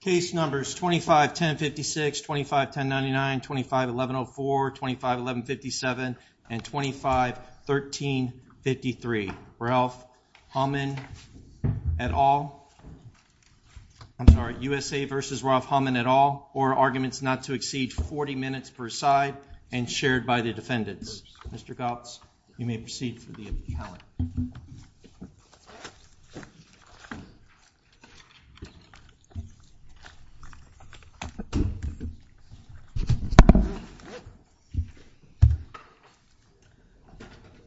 Case numbers 251056, 251099, 251104, 251157, and 251353. Raef Hamaed et al., I'm sorry, USA v. Raef Hamaed et al., for arguments not to exceed 40 minutes per side and shared by the defendants. Mr. Goetz, you may proceed with the impeachment.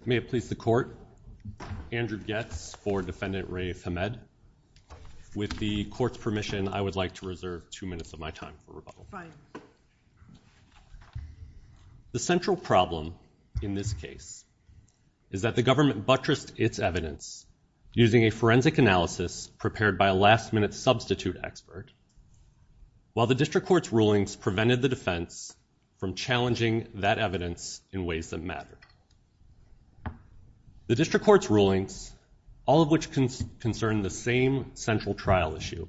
May it please the court, Andrew Goetz for defendant Raef Hamaed. With the court's permission, I would like to reserve two minutes of my time for rebuttal. The central problem in this case is that the government buttressed its evidence using a forensic analysis prepared by a last-minute substitute expert, while the district court's rulings prevented the defense from challenging that evidence in ways that matter. The district court's rulings, all of which concern the same central trial issue,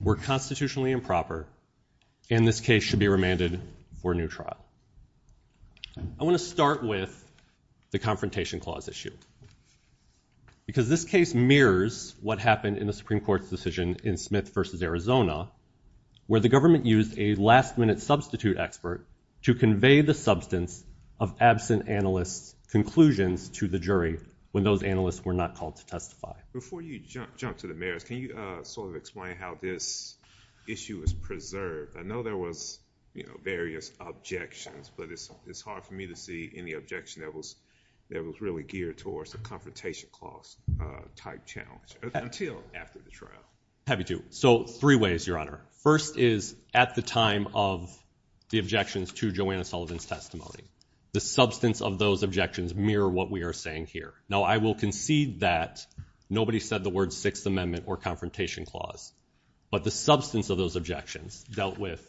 were constitutionally improper, and this case should be remanded for a new trial. I want to start with the confrontation clause issue, because this case mirrors what happened in the Supreme Court's decision in Smith v. Arizona, where the government used a last-minute substitute expert to convey the substance of absent analyst conclusions to the jury when those analysts were not called to testify. Before you jump to the merits, can you sort of how this issue is preserved? I know there was various objections, but it's hard for me to see any objection that was really geared towards a confrontation clause-type challenge, until after the trial. I have two. So, three ways, Your Honor. First is at the time of the objections to Joanna Sullivan's testimony. The substance of those objections mirror what we are saying here. Now, I will concede that nobody said the word Sixth Amendment or confrontation clause, but the substance of those objections dealt with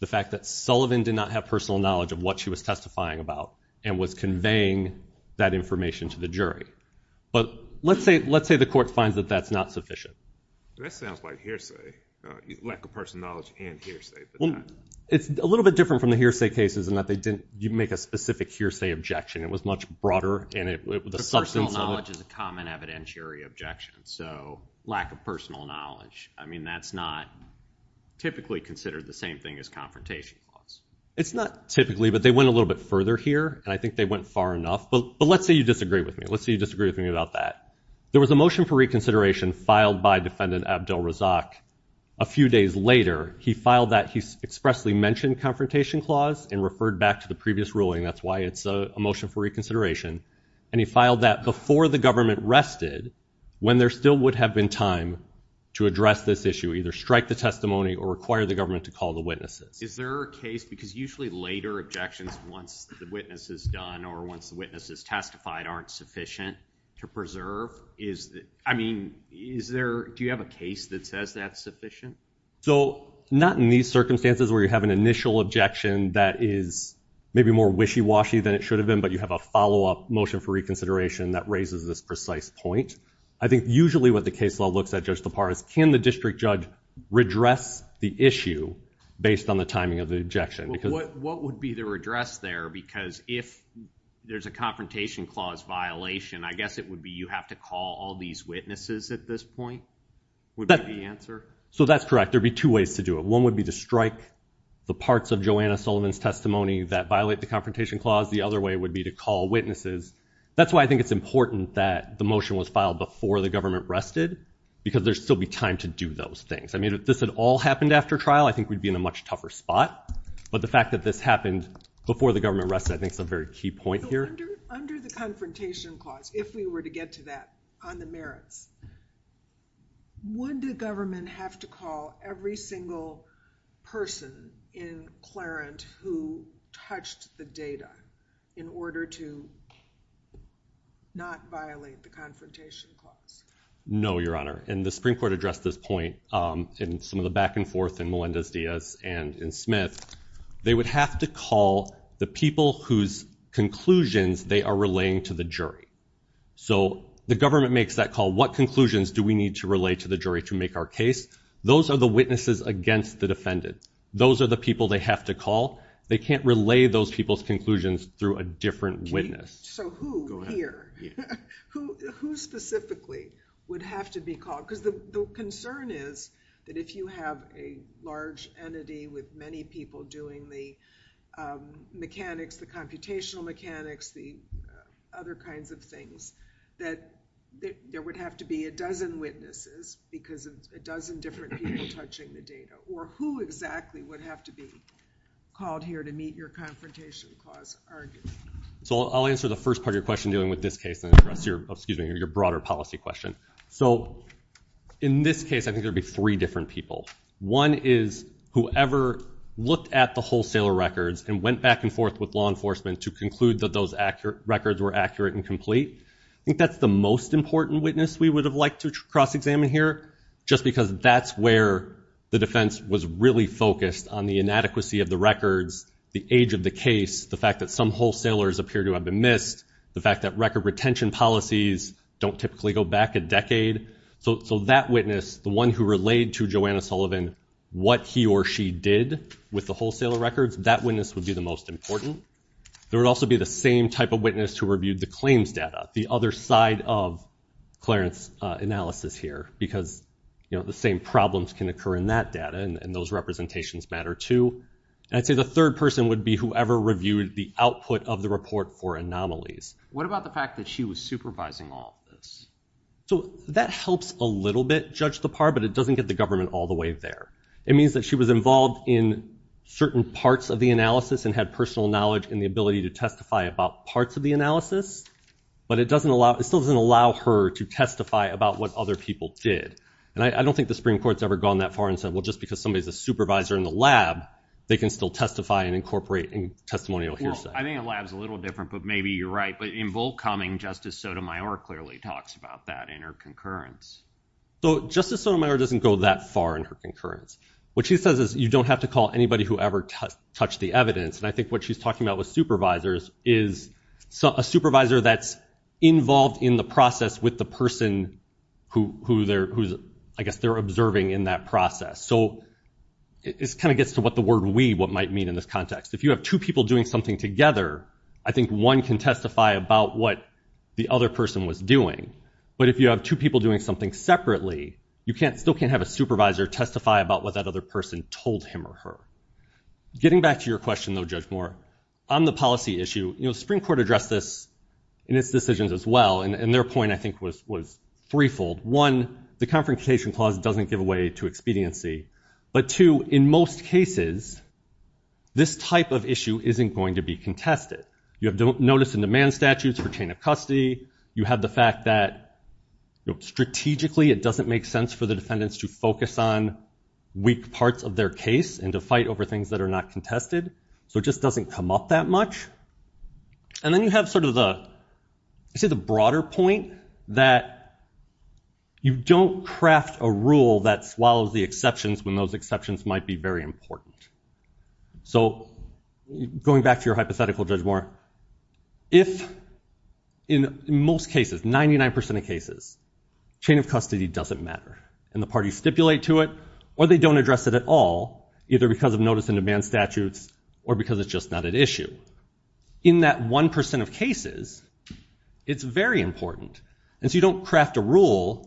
the fact that Sullivan did not have personal knowledge of what she was testifying about and was conveying that information to the jury. But let's say the court finds that that's not sufficient. That sounds like hearsay, lack of personal knowledge and hearsay. It's a little bit different from the hearsay cases in that you make a specific hearsay objection. It was much broader. Personal knowledge is a common evidentiary objection. So, lack of personal knowledge. I mean, that's not typically considered the same thing as confrontation clause. It's not typically, but they went a little bit further here, and I think they went far enough. But let's say you disagree with me. Let's say you disagree with me about that. There was a motion for reconsideration filed by Defendant Abdel Razak. A few days later, he filed that. He expressly mentioned confrontation clause and referred back to the previous ruling. That's why it's a motion for reconsideration. And he filed that before the government rested when there still would have been time to address this issue, either strike the testimony or require the government to call the witnesses. Is there a case, because usually later objections once the witness is done or once the witness is testified aren't sufficient to preserve, I mean, do you have a case that says that's sufficient? So, not in these circumstances where you have an initial objection that is maybe more wishy-washy than it should have been, but you have a follow-up motion for reconsideration that raises this precise point. I think usually what the case law looks at, Judge Tapar, is can the district judge redress the issue based on the timing of the objection? What would be the redress there? Because if there's a confrontation clause violation, I guess it would be you have to call all these witnesses at this point, would be the answer? So, that's correct. There'd be two ways to do it. One would be to strike the parts of Joanna Sullivan's testimony that violate the confrontation clause. The other way would be to call witnesses. That's why I think it's important that the motion was filed before the government rested, because there'd still be time to do those things. I mean, if this had all happened after trial, I think we'd be in a much tougher spot. But the fact that this happened before the government rested, I think is a very key point here. Under the confrontation clause, if we were to get to that on the merits, would the government have to call every single person in Clarence who touched the data in order to not violate the confrontation clause? No, Your Honor. And the Supreme Court addressed this point in some of the back and forth in Melinda's and in Smith's. They would have to call the people whose conclusions they are relaying to the jury. So, the government makes that call. What conclusions do we need to relay to the jury to make our case? Those are the witnesses against the defendant. Those are the people they have to call. They can't relay those people's conclusions through a different witness. So, who here, who specifically would have to be called? Because the concern is that if you have a large entity with many people doing the mechanics, the computational mechanics, the other kinds of things, that there would have to be a dozen witnesses because of a dozen different people touching the data. Or who exactly would have to be called here to meet your confrontation clause argument? So, I'll answer the first part of your question dealing with this case and then address your broader policy question. So, in this case, I think there'd be three different people. One is whoever looked at the wholesaler records and went back and forth with law enforcement to conclude that those records were accurate and complete. I think that's the most important witness we would have liked to cross-examine here just because that's where the defense was really focused on the inadequacy of the records, the age of the case, the fact that some wholesalers appear to have been missed, the fact that record retention policies don't typically go back a decade. So, that witness, the one who relayed to Joanna Sullivan what he or she did with the wholesaler records, that witness would be the most important. There would also be the same type of witness who reviewed the claims data, the other side of Clarence's analysis here because, you know, the same problems can occur in that data and those representations matter too. I'd say the third person would be whoever reviewed the output of the report or anomalies. What about the fact that she was supervising all of this? So, that helps a little bit, judge Lepar, but it doesn't get the government all the way there. It means that she was involved in certain parts of the analysis and had personal knowledge and the ability to testify about parts of the analysis, but it doesn't allow, it still doesn't allow her to testify about what other people did. And I don't think the Supreme Court's ever gone that far and said, well, just because somebody's a supervisor in the lab, they can still testify and incorporate in testimonial hearsay. Well, I mean, a lab's a little different, but maybe you're right, but in Volkoming, Justice Sotomayor clearly talks about that in her concurrence. So, Justice Sotomayor doesn't go that far in her concurrence. What she says is you don't have to call anybody who ever touched the evidence, and I think what she's talking about with supervisors is a supervisor that's involved in the process with the person who they're, who's, I guess, they're observing in that process. So, it kind of gets to what the word we, what might mean in this context. If you have two people doing something together, I think one can testify about what the other person was doing, but if you have two people doing something separately, you can't, still can't have a supervisor testify about what that other person told him or her. Getting back to your question, though, Judge Moore, on the policy issue, you know, the Supreme Court addressed this in its decisions as well, and their point, I think, was threefold. One, the Confrontation Clause doesn't give away to expediency, but two, in most cases, this type of issue isn't going to be contested. You have notice and demand statutes for chain of custody. You have the fact that, strategically, it doesn't make sense for the defendants to focus on weak parts of their case and to fight over things that are not contested, so it just doesn't come up that much. And then you have sort of the, you see, the broader point that you don't craft a rule that swallows the exceptions when those exceptions might be very important. So, going back to your hypothetical, Judge Moore, if, in most cases, 99% of cases, chain of custody doesn't matter, and the parties stipulate to it, or they don't address it at all, either because of notice and demand statutes or because it's just not an issue. In that 1% of cases, it's very important, and so you don't craft a rule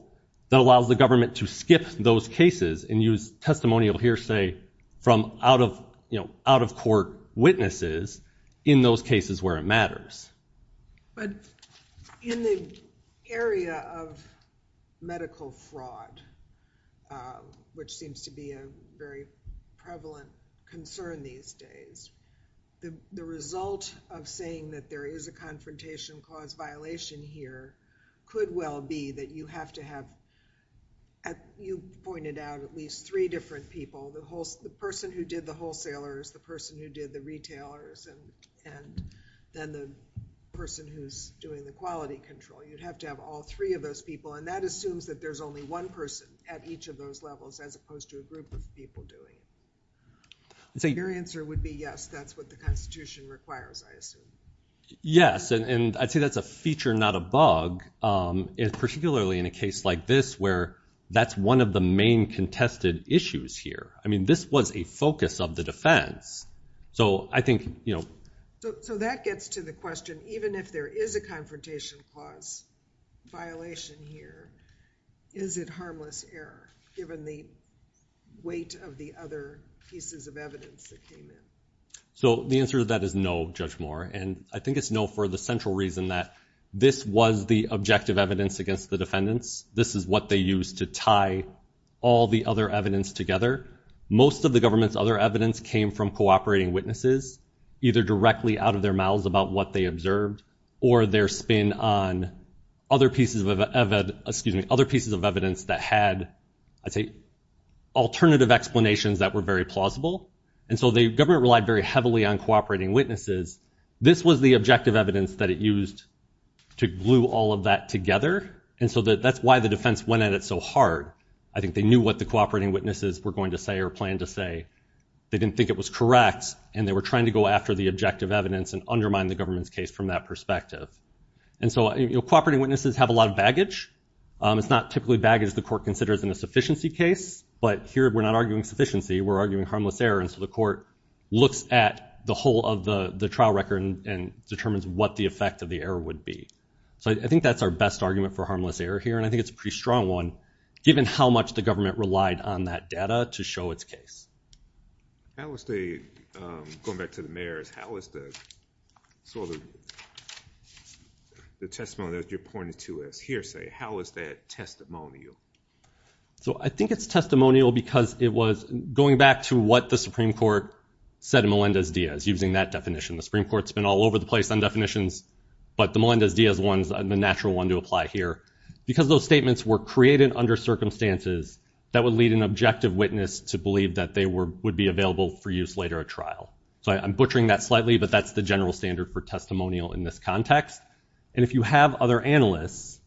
that allows the government to skip those cases and use testimonial hearsay from out-of-court witnesses in those cases where it matters. But in the area of medical fraud, which seems to be a very prevalent concern these days, the result of saying that there is a confrontation cause violation here could well be that you have to have, as you pointed out, at least three different people, the person who did the person who's doing the quality control. You'd have to have all three of those people, and that assumes that there's only one person at each of those levels as opposed to a group of people doing it. Your answer would be yes, that's what the Constitution requires, I assume. Yes, and I think that's a feature, not a bug, particularly in a case like this, where that's one of the main contested issues here. I mean, this was a focus of the defense. So, I think, you know. So, that gets to the question, even if there is a confrontation cause violation here, is it harmless error given the weight of the other pieces of evidence that came in? So, the answer to that is no, Judge Moore, and I think it's no for the central reason that this was the objective evidence against the defendants. This is what they used to tie all the other evidence together. Most of the government's other evidence came from cooperating witnesses, either directly out of their mouths about what they observed or their spin on other pieces of, excuse me, other pieces of evidence that had, I'd say, alternative explanations that were very plausible. And so, the government relied very heavily on cooperating witnesses. This was the objective evidence that it used to glue all of that together, and so that's why the defense went at it so hard. I think they knew what the cooperating witnesses were going to say or they didn't think it was correct, and they were trying to go after the objective evidence and undermine the government's case from that perspective. And so, you know, cooperating witnesses have a lot of baggage. It's not typically baggage the court considers in a sufficiency case, but here we're not arguing sufficiency. We're arguing harmless error, and so the court looks at the whole of the trial record and determines what the effect of the error would be. So, I think that's our best argument for harmless error here, and I think it's a pretty strong one, given how much the government relied on that data to show its case. I would say, going back to the mayor's, how was the sort of the testimony that you're pointing to as hearsay, how was that testimonial? So, I think it's testimonial because it was going back to what the Supreme Court said in Melendez-Diaz using that definition. The Supreme Court's been all over the place on definitions, but the Melendez-Diaz one's the natural one to hear, because those statements were created under circumstances that would lead an objective witness to believe that they would be available for use later at trial. So, I'm butchering that slightly, but that's the general standard for testimonial in this context, and if you have other analysts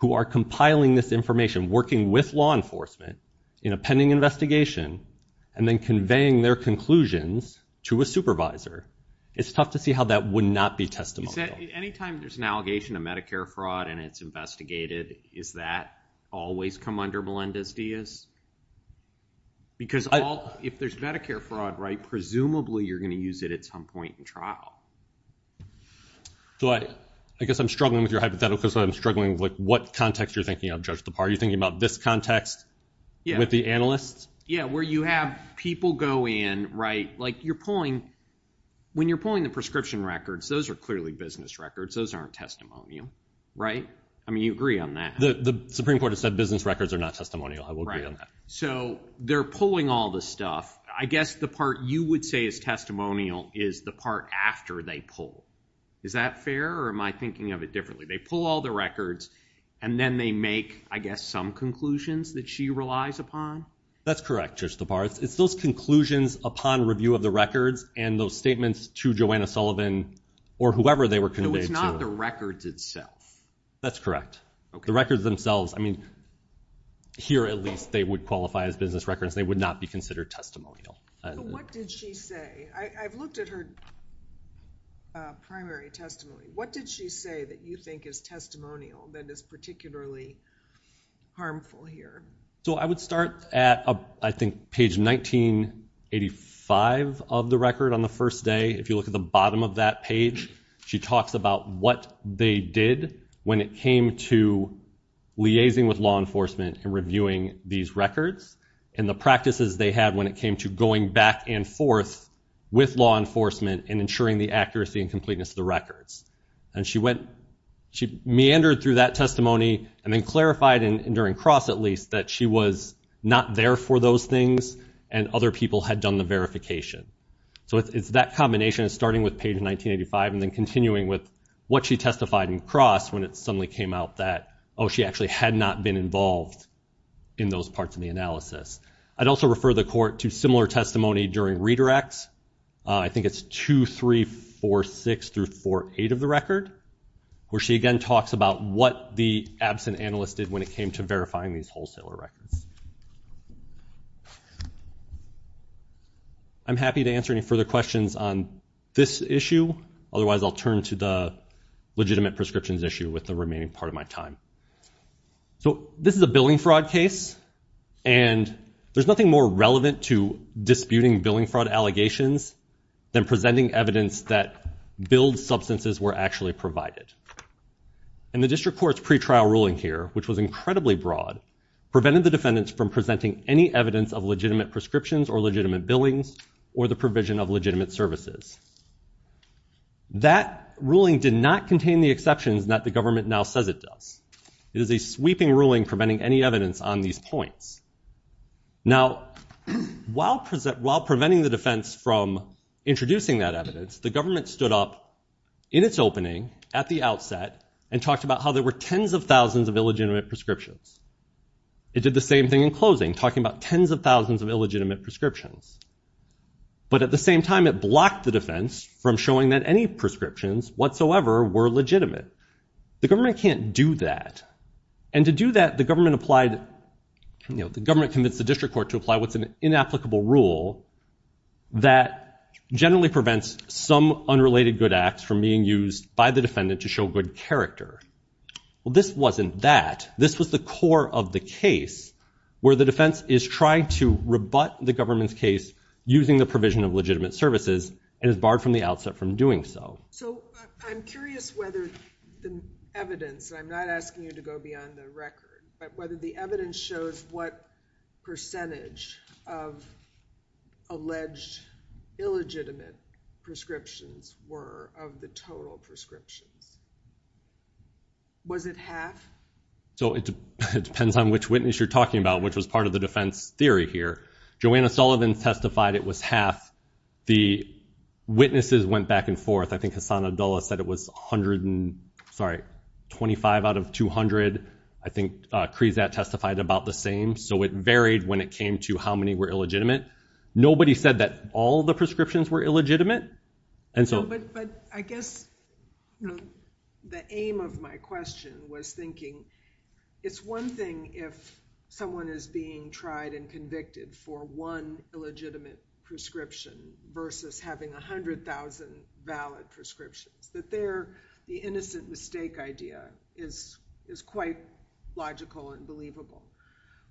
who are compiling this information, working with law enforcement in a pending investigation, and then conveying their conclusions to a supervisor, it's tough to see how that would not be testimonial. Anytime there's an allegation of Medicare fraud and it's investigated, is that always come under Melendez-Diaz? Because if there's Medicare fraud, right, presumably you're going to use it at some point in trial. So, I guess I'm struggling with your hypothetical, because I'm struggling with what context you're thinking of, Judge Tappar. Are you thinking about this context with the analysts? Yeah, where you have people go in, right, like you're pulling, when you're pulling the prescription records, those are clearly business records. Those aren't testimonial, right? I mean, you agree on that. The Supreme Court has said business records are not testimonial. I will agree on that. So, they're pulling all the stuff. I guess the part you would say is testimonial is the part after they pull. Is that fair, or am I thinking of it differently? They pull all the records, and then they make, I guess, some conclusions that she relies upon? That's correct, Judge Tappar. It's those conclusions upon review of the records and those statements to Joanna Sullivan or whoever they were conveyed to. So, it's not the records itself? That's correct. The records themselves, I mean, here, at least, they would qualify as business records. They would not be considered testimonial. What did she say? I've looked at her primary testimony. What did she say that you think is that is particularly harmful here? So, I would start at, I think, page 1985 of the record on the first day. If you look at the bottom of that page, she talks about what they did when it came to liaising with law enforcement and reviewing these records and the practices they had when it came to going back and forth with law enforcement and ensuring the accuracy and meandering through that testimony, and then clarified, and during Cross, at least, that she was not there for those things, and other people had done the verification. So, it's that combination of starting with page 1985 and then continuing with what she testified in Cross when it suddenly came out that, oh, she actually had not been involved in those parts of the analysis. I'd also refer the court to similar testimony during redirects. I think it's 2346-48 of the what the absent analyst did when it came to verifying these wholesaler records. I'm happy to answer any further questions on this issue. Otherwise, I'll turn to the legitimate prescriptions issue with the remaining part of my time. So, this is a billing fraud case, and there's nothing more relevant to disputing billing fraud allegations than presenting evidence that billed substances were actually provided. The district court's pretrial ruling here, which was incredibly broad, prevented the defendants from presenting any evidence of legitimate prescriptions or legitimate billings or the provision of legitimate services. That ruling did not contain the exceptions that the government now says it does. It is a sweeping ruling preventing any evidence on these points. Now, while preventing the defense from introducing that evidence, the government stood up in its opening, at the outset, and talked about how there were tens of thousands of illegitimate prescriptions. It did the same thing in closing, talking about tens of thousands of illegitimate prescriptions. But at the same time, it blocked the defense from showing that any prescriptions whatsoever were legitimate. The government can't do that. And to do that, the government commits the district court to apply what's an inapplicable rule that generally prevents some unrelated good acts from being used by the defendant to show good character. Well, this wasn't that. This was the core of the case where the defense is trying to rebut the government's case using the provision of legitimate services and is barred from the outset from doing so. So I'm curious whether the evidence, I'm not asking you to go beyond the record, but whether the evidence shows what percentage of alleged illegitimate prescriptions were of the total prescriptions. Was it half? So it depends on which witness you're talking about, which was part of the defense theory here. Joanna Sullivan testified it was half. The witnesses went back and forth. I think Hassan Abdullah said it was 125 out of 200. I think Krizat testified about the same. So it varied when it came to how many were illegitimate. Nobody said that all the prescriptions were illegitimate. But I guess the aim of my question was thinking, it's one thing if someone is being tried and convicted for one illegitimate prescription versus having 100,000 valid prescriptions. The innocent mistake idea is quite logical and believable.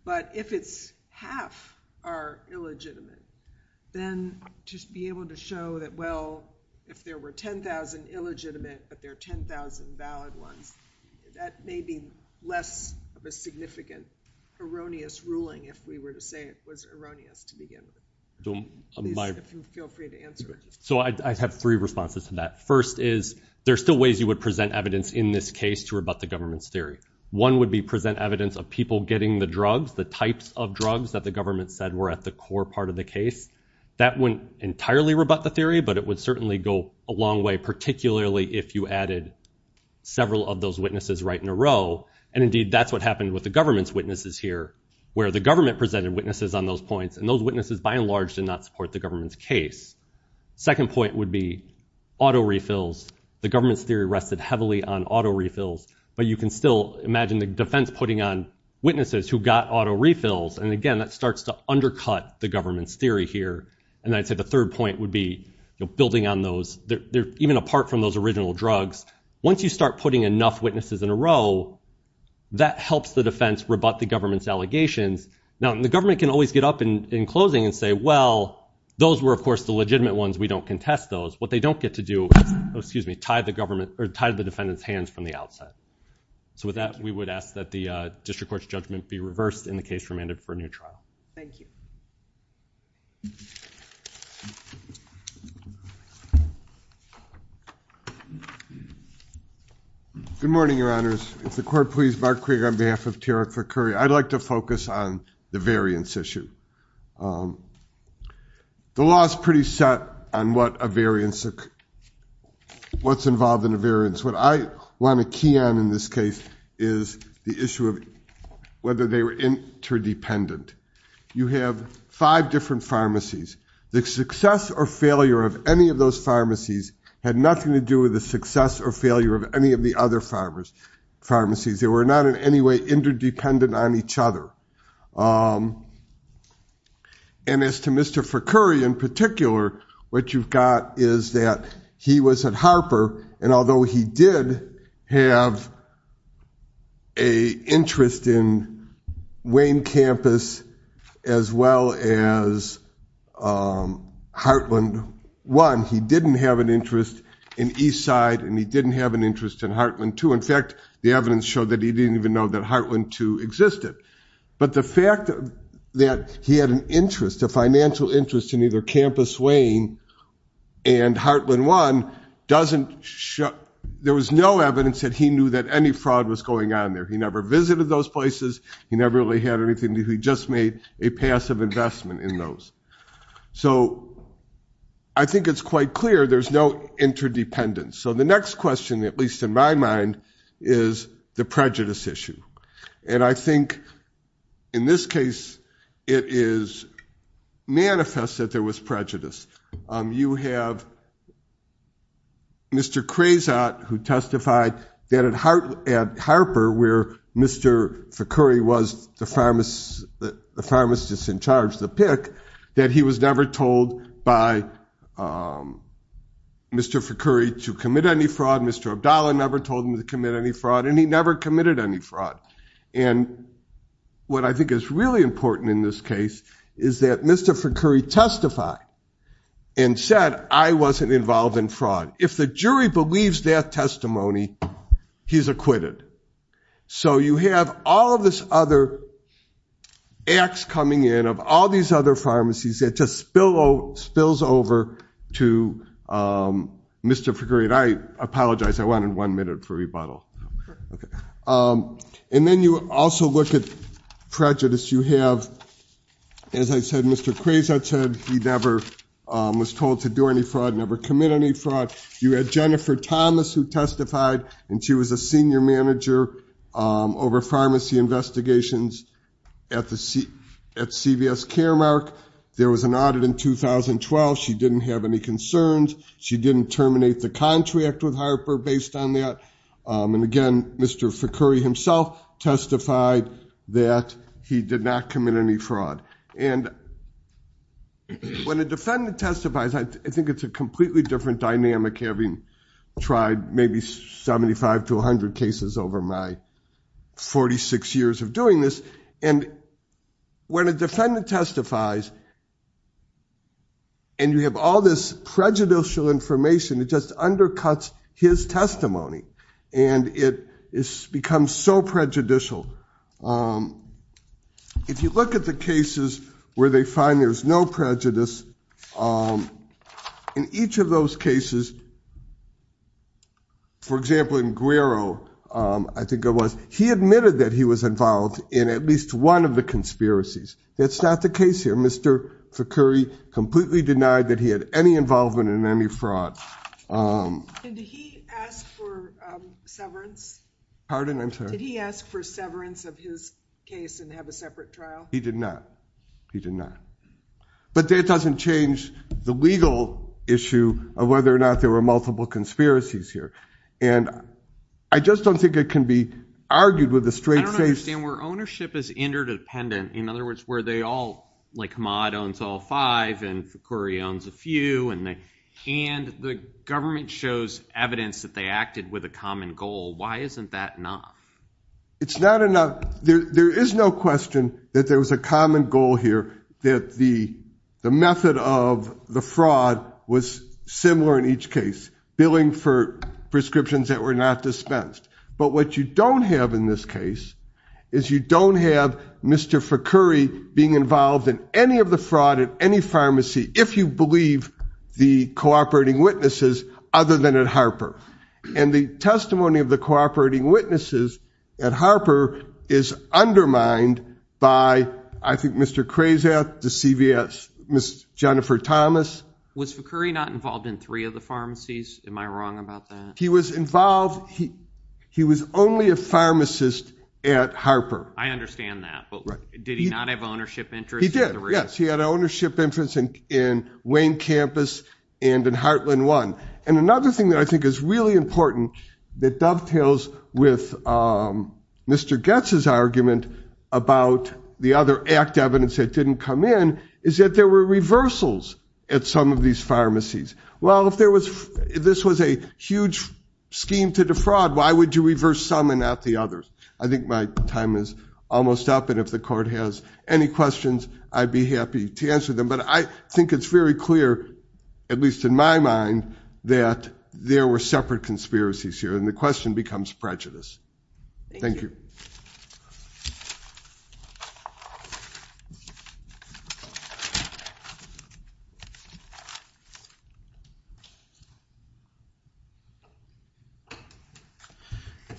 But if it's half are illegitimate, then just be able to show that, well, if there were 10,000 illegitimate but there are 10,000 valid ones, that may be less of a problem. So I have three responses to that. First is there are still ways you would present evidence in this case to rebut the government's theory. One would be present evidence of people getting the drugs, the types of drugs that the government said were at the core part of the case. That wouldn't entirely rebut the theory, but it would certainly go a long way, particularly if you added several of those witnesses right in a row. And indeed, that's what happened with the government's witnesses here, where the government presented witnesses on those points. And those the government's case. Second point would be auto refills. The government's theory rested heavily on auto refills. But you can still imagine the defense putting on witnesses who got auto refills. And again, that starts to undercut the government's theory here. And I'd say the third point would be building on those, even apart from those original drugs. Once you start putting enough witnesses in a row, that helps the defense rebut the government's allegations. Now, the government can always get up in closing and say, well, those were, of course, the legitimate ones. We don't contest those. What they don't get to do is tie the defendant's hands from the outset. So with that, we would ask that the district court's judgment be reversed in the case remanded for a new trial. Thank you. Good morning, your honors. If the court please, Mark Craig on behalf of T.R. Curry. I'd like to on the variance issue. The law is pretty set on what a variance, what's involved in a variance. What I want to key on in this case is the issue of whether they were interdependent. You have five different pharmacies. The success or failure of any of those pharmacies had nothing to do with the success or failure of any of the other pharmacies. They were not in any way interdependent on each other. And as to Mr. Forcurry in particular, what you've got is that he was at Harper, and although he did have an interest in Wayne campus as well as Heartland 1, he didn't have an interest in Eastside, and he didn't have an interest in Heartland 2. In fact, the evidence showed that he didn't even know that Heartland 2 existed. But the fact that he had an interest, a financial interest in either campus Wayne and Heartland 1 doesn't show, there was no evidence that he knew that any fraud was going on there. He never visited those places. He never really had anything. He just made a passive investment in those. So I think it's quite clear there's no interdependence. So the next question, at least in my mind, is the prejudice issue. And I think in this case, it is manifest that there was prejudice. You have Mr. Crazott who testified that at Harper where Mr. Forcurry was the pharmacist in charge, the pick, that he was never told by Mr. Forcurry to commit any fraud. Mr. Abdallah never told him to commit any fraud, and he never committed any fraud. And what I think is really important in this case is that Mr. Forcurry testified and said, I wasn't involved in fraud. If the jury believes that testimony, he's acquitted. So you have all of this other acts coming in of all these other pharmacies that just spills over to Mr. Forcurry. I apologize. I wanted one minute for rebuttal. And then you also look at prejudice. You have, as I said, Mr. Crazott said he never was told to do any fraud, never commit any fraud. You had Jennifer Thomas who testified, and she was a senior manager over pharmacy investigations at CVS Caremark. There was an audit in 2012. She didn't have any concerns. She didn't terminate the contract with Harper based on that. And again, Mr. Forcurry himself testified that he did not commit any fraud. And when a defendant testifies, I think it's a completely different dynamic having tried maybe 75 to 100 cases over my 46 years of doing this. And when a defendant testifies, and you have all this prejudicial information, it just undercuts his testimony. And it becomes so prejudicial. If you look at the cases where they find there's no prejudice, in each of those cases, for example, in Guerro, I think it was, he admitted that he was involved in at least one of the conspiracies. That's not the case here. Mr. Forcurry completely denied that he had any involvement in any fraud. And did he ask for severance? Pardon? I'm sorry. Did he ask for severance of his case and have a separate trial? He did not. He did not. But that doesn't change the legal issue of whether or not there were multiple conspiracies here. And I just don't think it can be argued with a straight face. I don't understand. Where ownership is interdependent, in other words, where they all, like Maude owns all five and Forcurry owns a few, and the government shows evidence that they acted with a common goal, why isn't that not? It's not enough. There is no question that there was a common goal here that the method of the fraud was similar in each case, billing for prescriptions that were not dispensed. But what you don't have in this case is you don't have Mr. Forcurry being involved in any of the fraud at any pharmacy, if you believe the cooperating witnesses other than at Harper. And the testimony of the cooperating witnesses at Harper is undermined by, I think, Mr. Krasath, the CVS, Ms. Jennifer Thomas. Was Forcurry not involved in three of the pharmacies? Am I wrong about that? He was involved. He was only a pharmacist at Harper. I understand that. But did he not have ownership interest? He did, yes. He had ownership interest in Wayne Campus and in Heartland One. And another thing that I think is really important that dovetails with Mr. Goetz's argument about the other act evidence that didn't come in is that there were reversals at some of these pharmacies. Well, if this was a huge scheme to defraud, why would you reverse some and not the others? I think my time is almost up. And if the court has any questions, I'd be happy to answer them. But I think it's very clear, at least in my mind, that there were separate conspiracies here. And the question becomes prejudice. Thank you.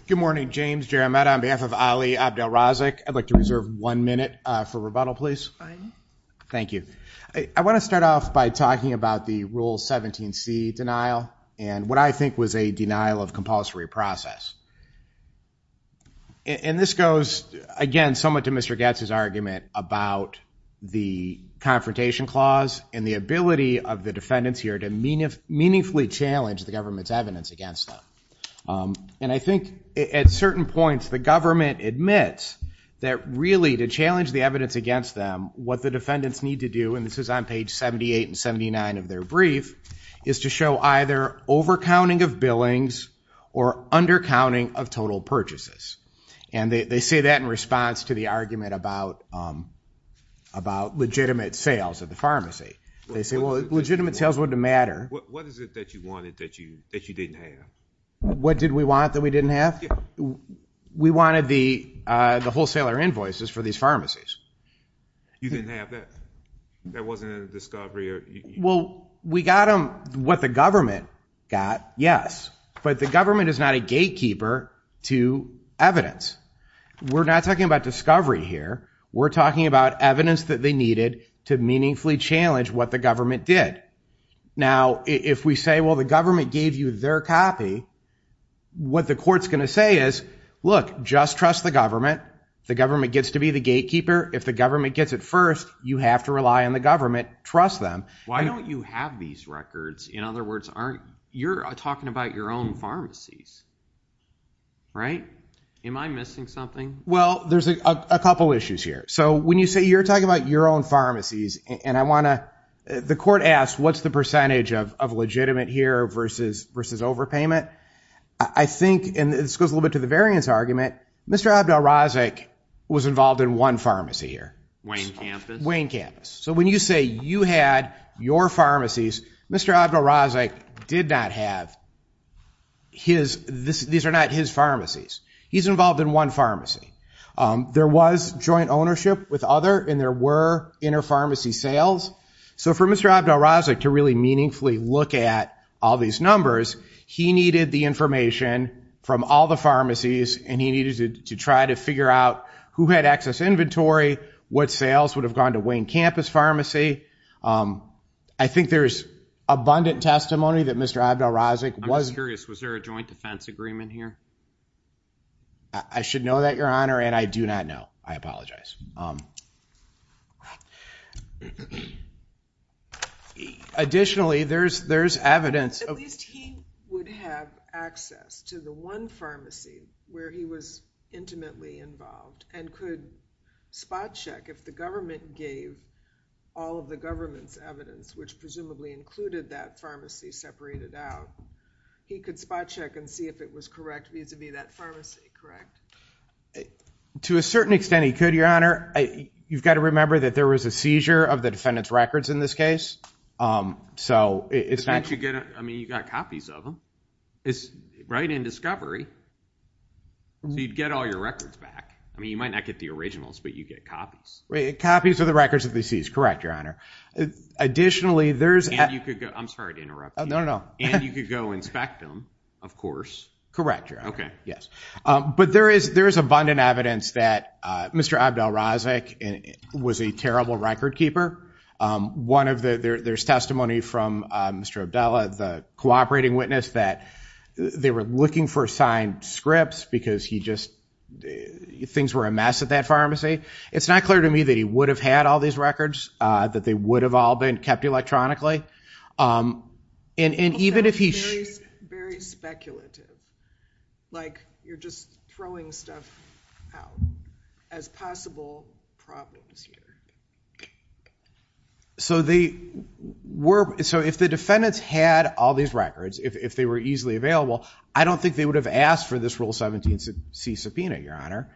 Good morning, James Jaramet. On behalf of Ali Abdelrazak, I'd like to reserve one minute for rebuttal, please. Thank you. I want to start off by talking about the Rule 17c denial and what I think was a denial of compulsory process. And this goes, again, somewhat to Mr. Goetz's argument about the Confrontation Clause and the ability of the defendants here to meaningfully challenge the government's evidence against them. And I think at certain points, the government admits that really to challenge the evidence against them, what the defendants need to do, and this is on page 78 and 79 of their brief, is to show either overcounting of billings or undercounting of total purchases. And they say that in response to the argument about legitimate sales at the pharmacy. They say, well, legitimate sales wouldn't matter. What is it that you wanted that you didn't have? What did we want that we didn't have? We wanted the wholesaler invoices for these pharmacies. You didn't have that? That wasn't in the discovery? Well, we got what the government got, yes. But the government is not a gatekeeper to evidence. We're not talking about discovery here. We're talking about evidence that they needed to meaningfully challenge what the government did. Now, if we say, well, the government gave you their copy, what the court's going to say is, look, just trust the government. The government gets to be the gatekeeper. If the government gets it first, you have to rely on the government. Trust them. Why don't you have these records? In other words, you're talking about your own pharmacies, right? Am I missing something? Well, there's a couple issues here. So when you say you're talking about your own pharmacies, and I want to, the court asks, what's the percentage of legitimate here versus overpayment? I think, and this goes a little bit to the variance argument, Mr. Abdel-Razek was involved in one pharmacy here. Wayne Campus? Wayne Campus. So when you say you had your pharmacies, Mr. Abdel-Razek did not have his, these are not his pharmacies. He's involved in one pharmacy. There was joint ownership with other, and there were inter-pharmacy sales. So for Mr. Abdel-Razek to really meaningfully look at all these numbers, he needed the information from all the pharmacies, and he needed to try to figure out who had excess inventory, what sales would have gone to Wayne Campus Pharmacy. I think there's abundant testimony that Mr. Abdel-Razek was- I'm curious, was there a joint defense agreement here? I should know that, Your Honor, and I do not know. I apologize. Additionally, there's evidence- If he would have access to the one pharmacy where he was intimately involved and could spot check if the government gave all of the government's evidence, which presumably included that pharmacy separated out, he could spot check and see if it was correct vis-a-vis that pharmacy, correct? To a certain extent, he could, Your Honor. You've got to remember that there was a seizure of the defendant's records in this case. So if that- I mean, you got copies of them. It's right in discovery. You'd get all your records back. I mean, you might not get the originals, but you get copies. Right, copies of the records would be seized. Correct, Your Honor. Additionally, there's- And you could go- I'm sorry to interrupt you. No, no, no. And you could go inspect them, of course. Correct, Your Honor. Okay. But there is abundant evidence that Mr. Abdel Razek was a terrible record keeper. There's testimony from Mr. Abdel, the cooperating witness, that they were looking for signed scripts because things were a mess at that pharmacy. It's not clear to me that he would have had all these records, that they would have all been kept electronically. And even if he- Very speculative, like you're just throwing stuff out as possible problems here. So if the defendants had all these records, if they were easily available, I don't think they would have asked for this Rule 17c subpoena, Your Honor.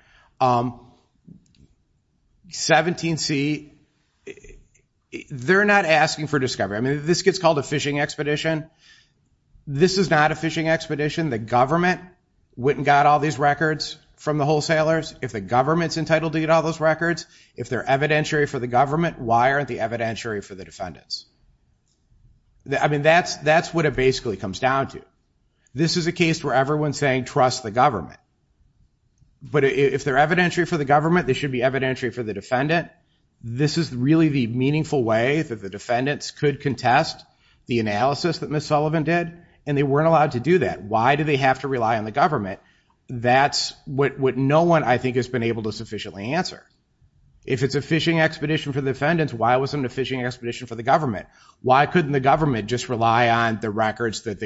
17c, they're not asking for discovery. I mean, this gets called a phishing expedition. This is not a phishing expedition. The government wouldn't got all these records from the wholesalers. If the government's entitled to get all those records, if they're evidentiary for the government, why aren't they evidentiary for the defendants? I mean, that's what it basically comes down to. This is a case where everyone's saying, trust the government. But if they're evidentiary for the government, they should be evidentiary for the defendant. This is really the meaningful way that the defendants could contest the analysis that Ms. Sullivan did, and they weren't allowed to do that. Why do they have to rely on the government? That's what no one, I think, has been able to sufficiently answer. If it's a phishing expedition for the defendants, why wasn't it a phishing expedition for the government? Why couldn't the government just rely on the records that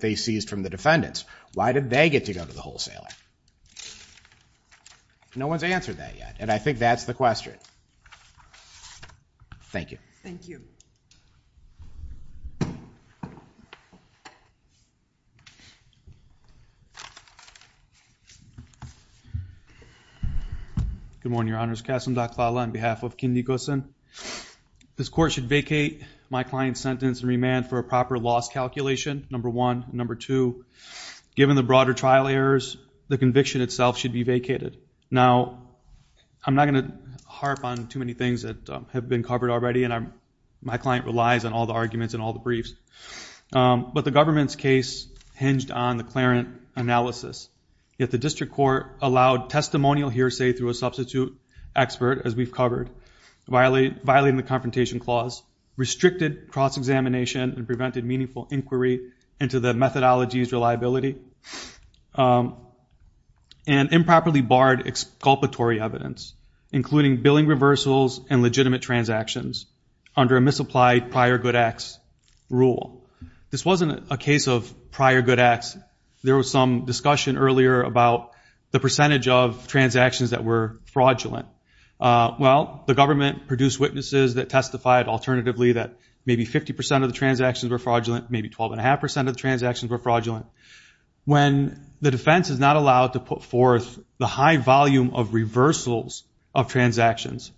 they seized from the defendants? Why did they get to go to the wholesaler? No one's answered that yet. And I think that's the question. Thank you. Thank you. Good morning, Your Honors. Kasim Dakhbala on behalf of Ken Nicholson. This court should vacate my client's sentence and remand for a proper loss calculation, number one. Number two, given the broader trial errors, the conviction itself should be vacated. Now, I'm not going to harp on too many things that have been covered already, and my client relies on all the arguments and all the briefs. But the government's case hinged on the clarent analysis. Yet the district court allowed testimonial hearsay through a substitute expert, as we've covered, violating the Confrontation Clause, restricted cross-examination and prevented meaningful inquiry into the methodology's reliability, and improperly barred exculpatory evidence, including billing reversals and legitimate transactions under a misapplied prior good acts rule. This wasn't a case of prior good acts. There was some discussion earlier about the percentage of transactions that were fraudulent. Well, the government produced witnesses that testified alternatively that maybe 50% of the transactions were fraudulent, maybe 12.5% of the transactions were fraudulent. When the defense is not allowed to put forth the high volume of reversals of transactions,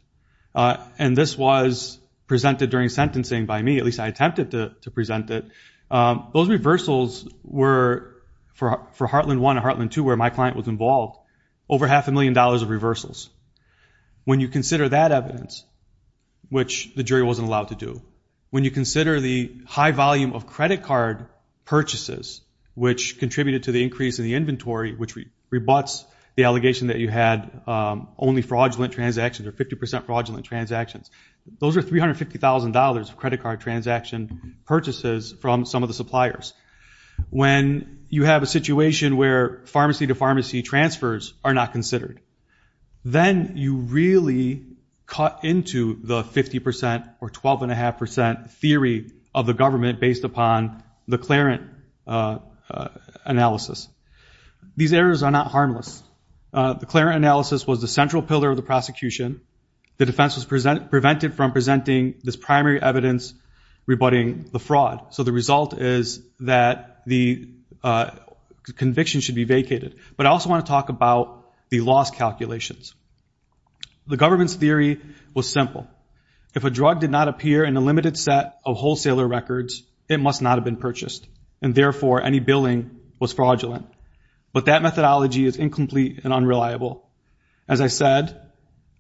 and this was presented during sentencing by me, at least I attempted to present it, those reversals were, for Heartland 1 and Heartland 2, where my client was involved, over half a million dollars of reversals. When you consider that evidence, which the jury wasn't allowed to do, when you consider the high volume of credit card purchases, which contributed to the increase in the inventory, which rebuts the allegation that you had only fraudulent transactions or 50% fraudulent transactions, those are $350,000 of credit card transaction purchases from some of the suppliers. When you have a situation where pharmacy-to-pharmacy transfers are not considered, then you really cut into the 50% or 12.5% theory of the government based upon the Clarence analysis. These errors are not harmless. The Clarence analysis was the central pillar of the prosecution. The defense was prevented from presenting this primary evidence rebutting the fraud. So the result is that the conviction should be vacated. But I also want to talk about the loss calculations. The government's theory was simple. If a drug did not appear in a limited set of wholesaler records, it must not have been purchased. And therefore, any billing was fraudulent. But that methodology is incomplete and unreliable. As I said,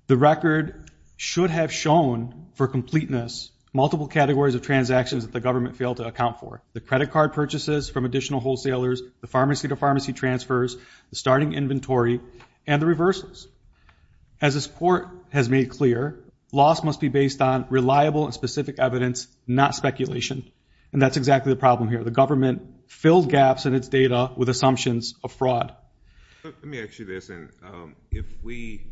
the record should have shown for completeness multiple categories of transactions that the government failed to account for. The credit card purchases from additional wholesalers, the pharmacy-to-pharmacy transfers, the starting inventory, and the reversals. As this court has made clear, loss must be based on reliable and specific evidence, not speculation. And that's exactly the problem here. The government filled gaps in its data with assumptions of fraud. Let me ask you this. If we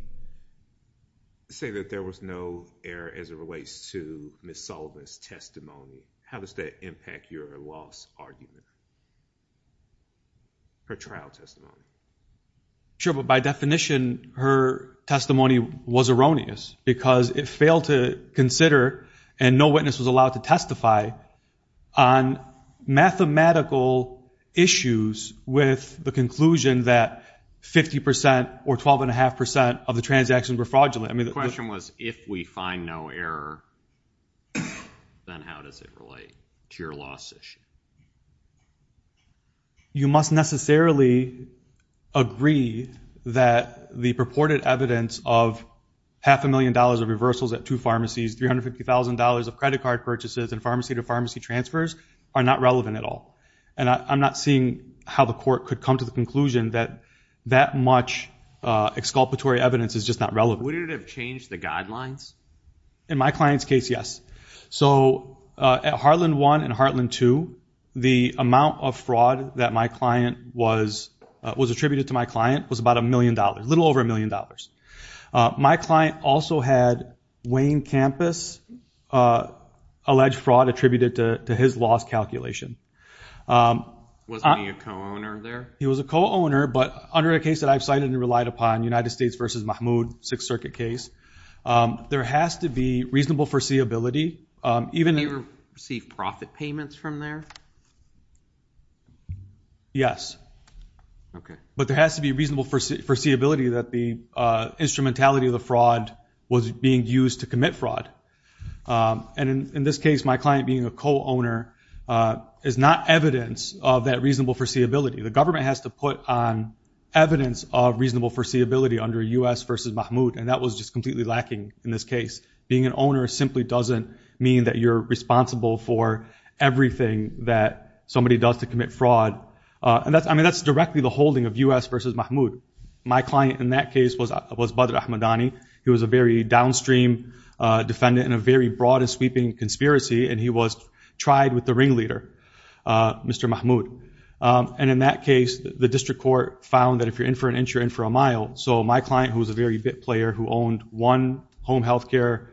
say that there was no error as it relates to Ms. Sullivan's testimony, how does that impact your loss argument or trial testimony? Sure, but by definition, her testimony was erroneous because it failed to consider, and no witness was allowed to testify, on mathematical issues with the conclusion that 50% or 12.5% of the transactions were fraudulent. The question was, if we find no error, then how does it relate to your loss issue? You must necessarily agree that the purported evidence of half a million dollars of reversals at two pharmacies, $350,000 of credit card purchases, and pharmacy-to-pharmacy transfers are not relevant at all. And I'm not seeing how the court could come to the conclusion that that much exculpatory evidence is just not relevant. Would it have changed the guidelines? In my client's case, yes. So at Heartland 1 and Heartland 2, the amount of fraud that my client was attributed to my client was about a million dollars, a little over a million dollars. My client also had Wayne Campus alleged fraud attributed to his loss calculation. Was he a co-owner there? He was a co-owner, but under a case that I've cited and relied upon, United States v. Mahmood, Sixth Circuit case, there has to be reasonable foreseeability. Did he receive profit payments from there? Yes. But there has to be reasonable foreseeability that the instrumentality of the fraud was being used to commit fraud. And in this case, my client being a co-owner is not evidence of that reasonable foreseeability. The government has to put on evidence of reasonable foreseeability under U.S. v. Mahmood, and that was just completely lacking in this case. Being an owner simply doesn't mean that you're responsible for everything that somebody does to commit fraud. I mean, that's directly the holding of U.S. v. Mahmood. My client in that case was Badr Ahmadani. He was a very downstream defendant in a very broad sweeping conspiracy, and he was tried with the ringleader, Mr. Mahmood. And in that case, the district court found that if you're in for an inch, you're in for a mile. So my client, who was a very big player who owned one home health care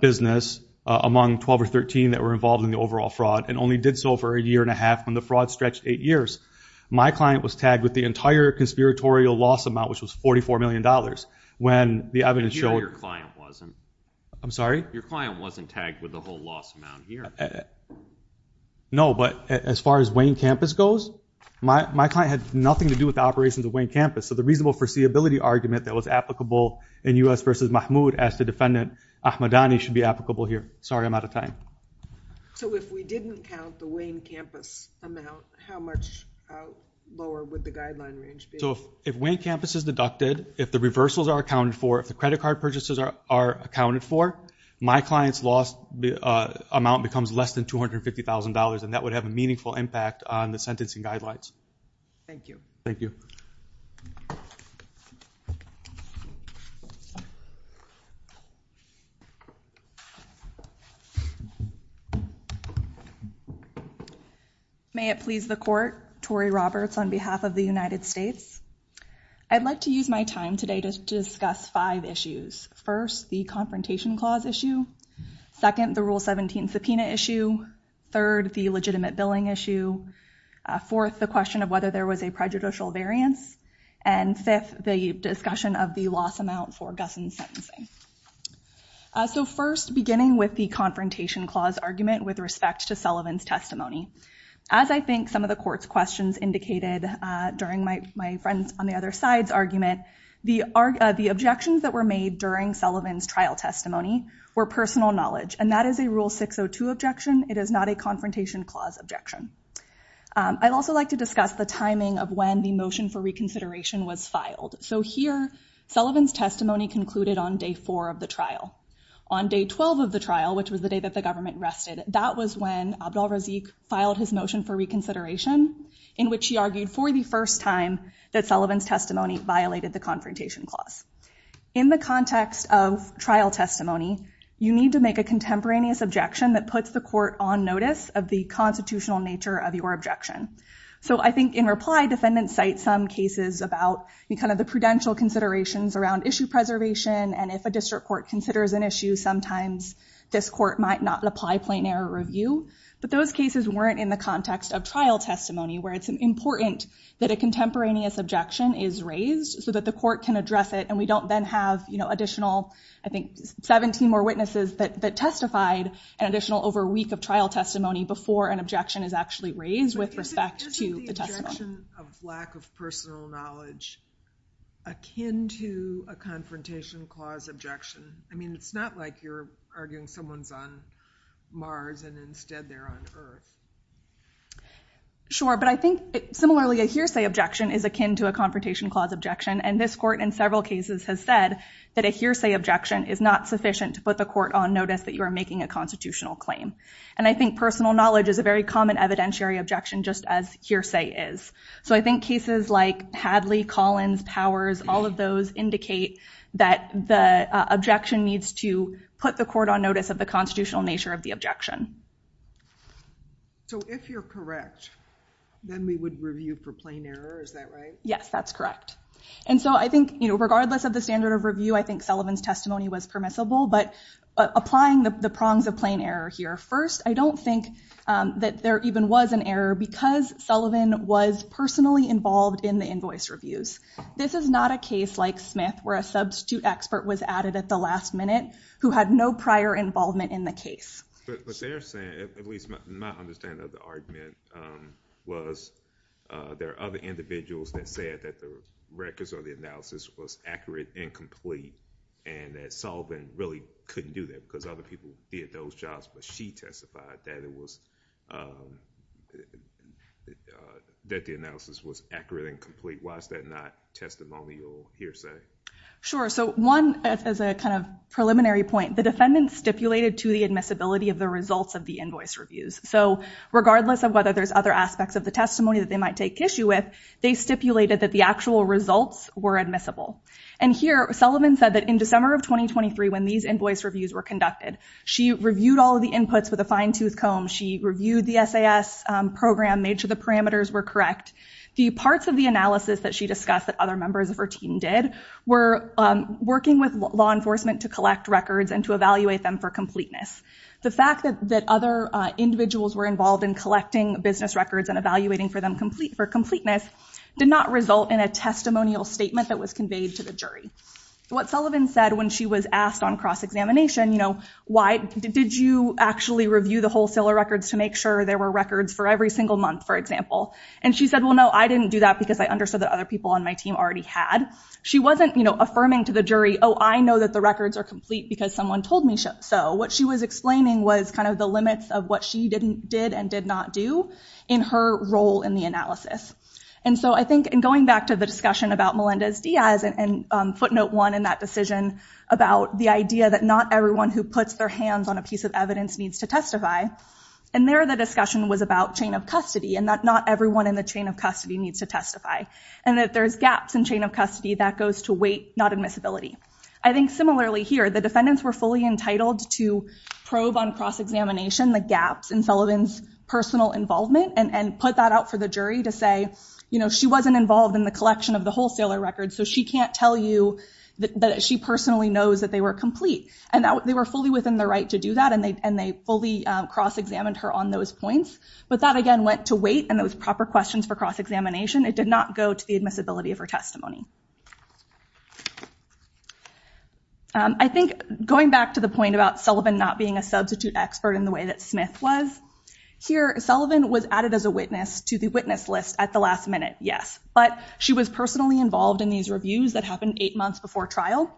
business among 12 or 13 that were involved in the overall fraud and only did so for a year and a half when the fraud stretched eight years, my client was tagged with the entire conspiratorial loss amount, which was $44 million when the evidence showed... I'm sorry? Your client wasn't tagged with the whole loss amount here. No, but as far as Wayne Campus goes, my client had nothing to do with the operations of Wayne Campus. So the reasonable foreseeability argument that was applicable in U.S. v. Mahmood as to defendant Ahmadani should be applicable here. Sorry, I'm out of time. So if we didn't count the Wayne Campus amount, how much lower would the guideline range be? So if Wayne Campus is deducted, if the reversals are accounted for, if the credit card purchases are accounted for, my client's loss amount becomes less than $250,000, and that would have a meaningful impact on the sentencing guidelines. Thank you. Thank you. May it please the court, Tori Roberts on behalf of the United States. I'd like to use my time today to discuss five issues. First, the confrontation clause issue. Second, the Rule 17 subpoena issue. Third, the legitimate billing issue. Fourth, the question of whether there was a prejudicial variance. Fifth, the question of whether there was a misdemeanor. Sixth, the and fifth, the discussion of the loss amount for gussing sentencing. So first, beginning with the confrontation clause argument with respect to Sullivan's testimony. As I think some of the court's questions indicated during my friend on the other side's argument, the objections that were made during Sullivan's trial testimony were personal knowledge, and that is a Rule 602 objection. It is not a confrontation clause objection. I'd also like to discuss the timing of when the motion for reconsideration was filed. So here, Sullivan's testimony concluded on day four of the trial. On day 12 of the trial, which was the day that the government rested, that was when Abdal-Razik filed his motion for reconsideration, in which he argued for the first time that Sullivan's testimony violated the confrontation clause. In the context of trial testimony, you need to make a contemporaneous objection that puts the court on notice of the constitutional nature of your objection. So I think in reply, defendants cite some cases about the kind of the prudential considerations around issue preservation, and if a district court considers an issue, sometimes this court might not apply plain error review, but those cases weren't in the context of trial testimony, where it's important that a contemporaneous objection is raised so that the court can address it, and we don't then have, you know, additional, I think, 17 more witnesses that testified, and additional over a week of trial testimony before an objection is actually raised with respect to the testimony. Isn't the objection of lack of personal knowledge akin to a confrontation clause objection? I mean, it's not like you're arguing someone's on Mars and instead they're on Earth. Sure, but I think, similarly, a hearsay objection is akin to a confrontation clause objection, and this court, in several cases, has said that a hearsay objection is not sufficient to put the court on notice that you are making a constitutional claim, and I think personal knowledge is a very common evidentiary objection, just as hearsay is. So, I think cases like Hadley, Collins, Powers, all of those indicate that the objection needs to put the court on notice of the constitutional nature of the objection. So, if you're correct, then we would review for plain error, is that right? Yes, that's correct, and so I think, you know, regardless of the standard of review, I think Sullivan's testimony was permissible, but applying the prongs of plain error here. First, I don't think that there even was an error because Sullivan was personally involved in the invoice reviews. This is not a case like Smith, where a substitute expert was added at the last minute who had no prior involvement in the case. What they're saying, at least my understanding of the argument, was there are other individuals that said that the records or the analysis was accurate and complete, and that Sullivan really couldn't do that because other people did those jobs, but she testified that the analysis was accurate and complete. Why is that not testimonial hearsay? Sure, so one, as a kind of preliminary point, the defendant stipulated to the admissibility of the results of the invoice reviews. So, regardless of whether there's other aspects of the testimony that they might take issue with, they stipulated that the actual results were admissible, and here Sullivan said that in December of 2023, when these invoice reviews were conducted, she reviewed all the inputs with a fine-tooth comb. She reviewed the SAS program, made sure the parameters were correct. The parts of the analysis that she discussed that other members of her team did were working with law enforcement to collect records and to evaluate them for completeness. The fact that other individuals were involved in collecting business records and evaluating for them for completeness did not result in a testimonial statement that was conveyed to the jury. What Sullivan said when she was asked on cross-examination, you know, why did you actually review the wholesaler records to make sure there were records for every single month, for example, and she said, well, no, I didn't do that because I understood that other people on my team already had. She wasn't, you know, affirming to the jury, oh, I know that the records are complete because someone told me so. What she was explaining was kind of the limits of what she didn't did and did not do in her role in the analysis, and so I think in going back to the discussion about Melendez-Diaz and footnote one in that decision about the idea that not everyone who puts their hands on a piece of evidence needs to testify, and there the discussion was about chain of custody and that not everyone in the chain of custody needs to testify and that there's gaps in chain of custody that goes to weight, not admissibility. I think similarly here, the defendants were fully entitled to probe on cross-examination the gaps in Sullivan's personal involvement and put that out for the jury to say, you know, she wasn't involved in the collection of the wholesaler records, so she can't tell you that she personally knows that they were complete, and they were fully within the right to do that, and they fully cross-examined her on those points, but that again went to weight, and it was proper questions for cross-examination. It did not go to the admissibility of her testimony. I think going back to the point about Sullivan not being a substitute expert in the way that Smith was, here Sullivan was added as a witness to the witness list at the last minute, yes, but she was personally involved in these reviews that happened eight months before trial.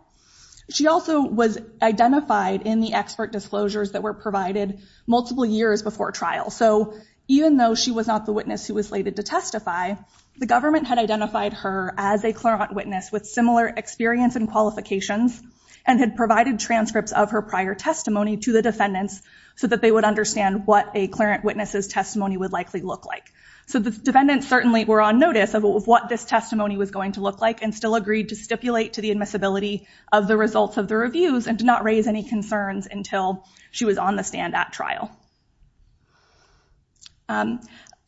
She also was identified in the expert disclosures that were provided multiple years before trial, so even though she was not the witness who was slated to testify, the government had identified her as a clarent witness with similar experience and qualifications and had provided transcripts of her prior testimony to the defendants so that they would understand what a clarent witness's testimony would likely look like. So the defendants certainly were on notice of what this testimony was going to look like and agreed to stipulate to the admissibility of the results of the reviews and did not raise any concerns until she was on the stand at trial.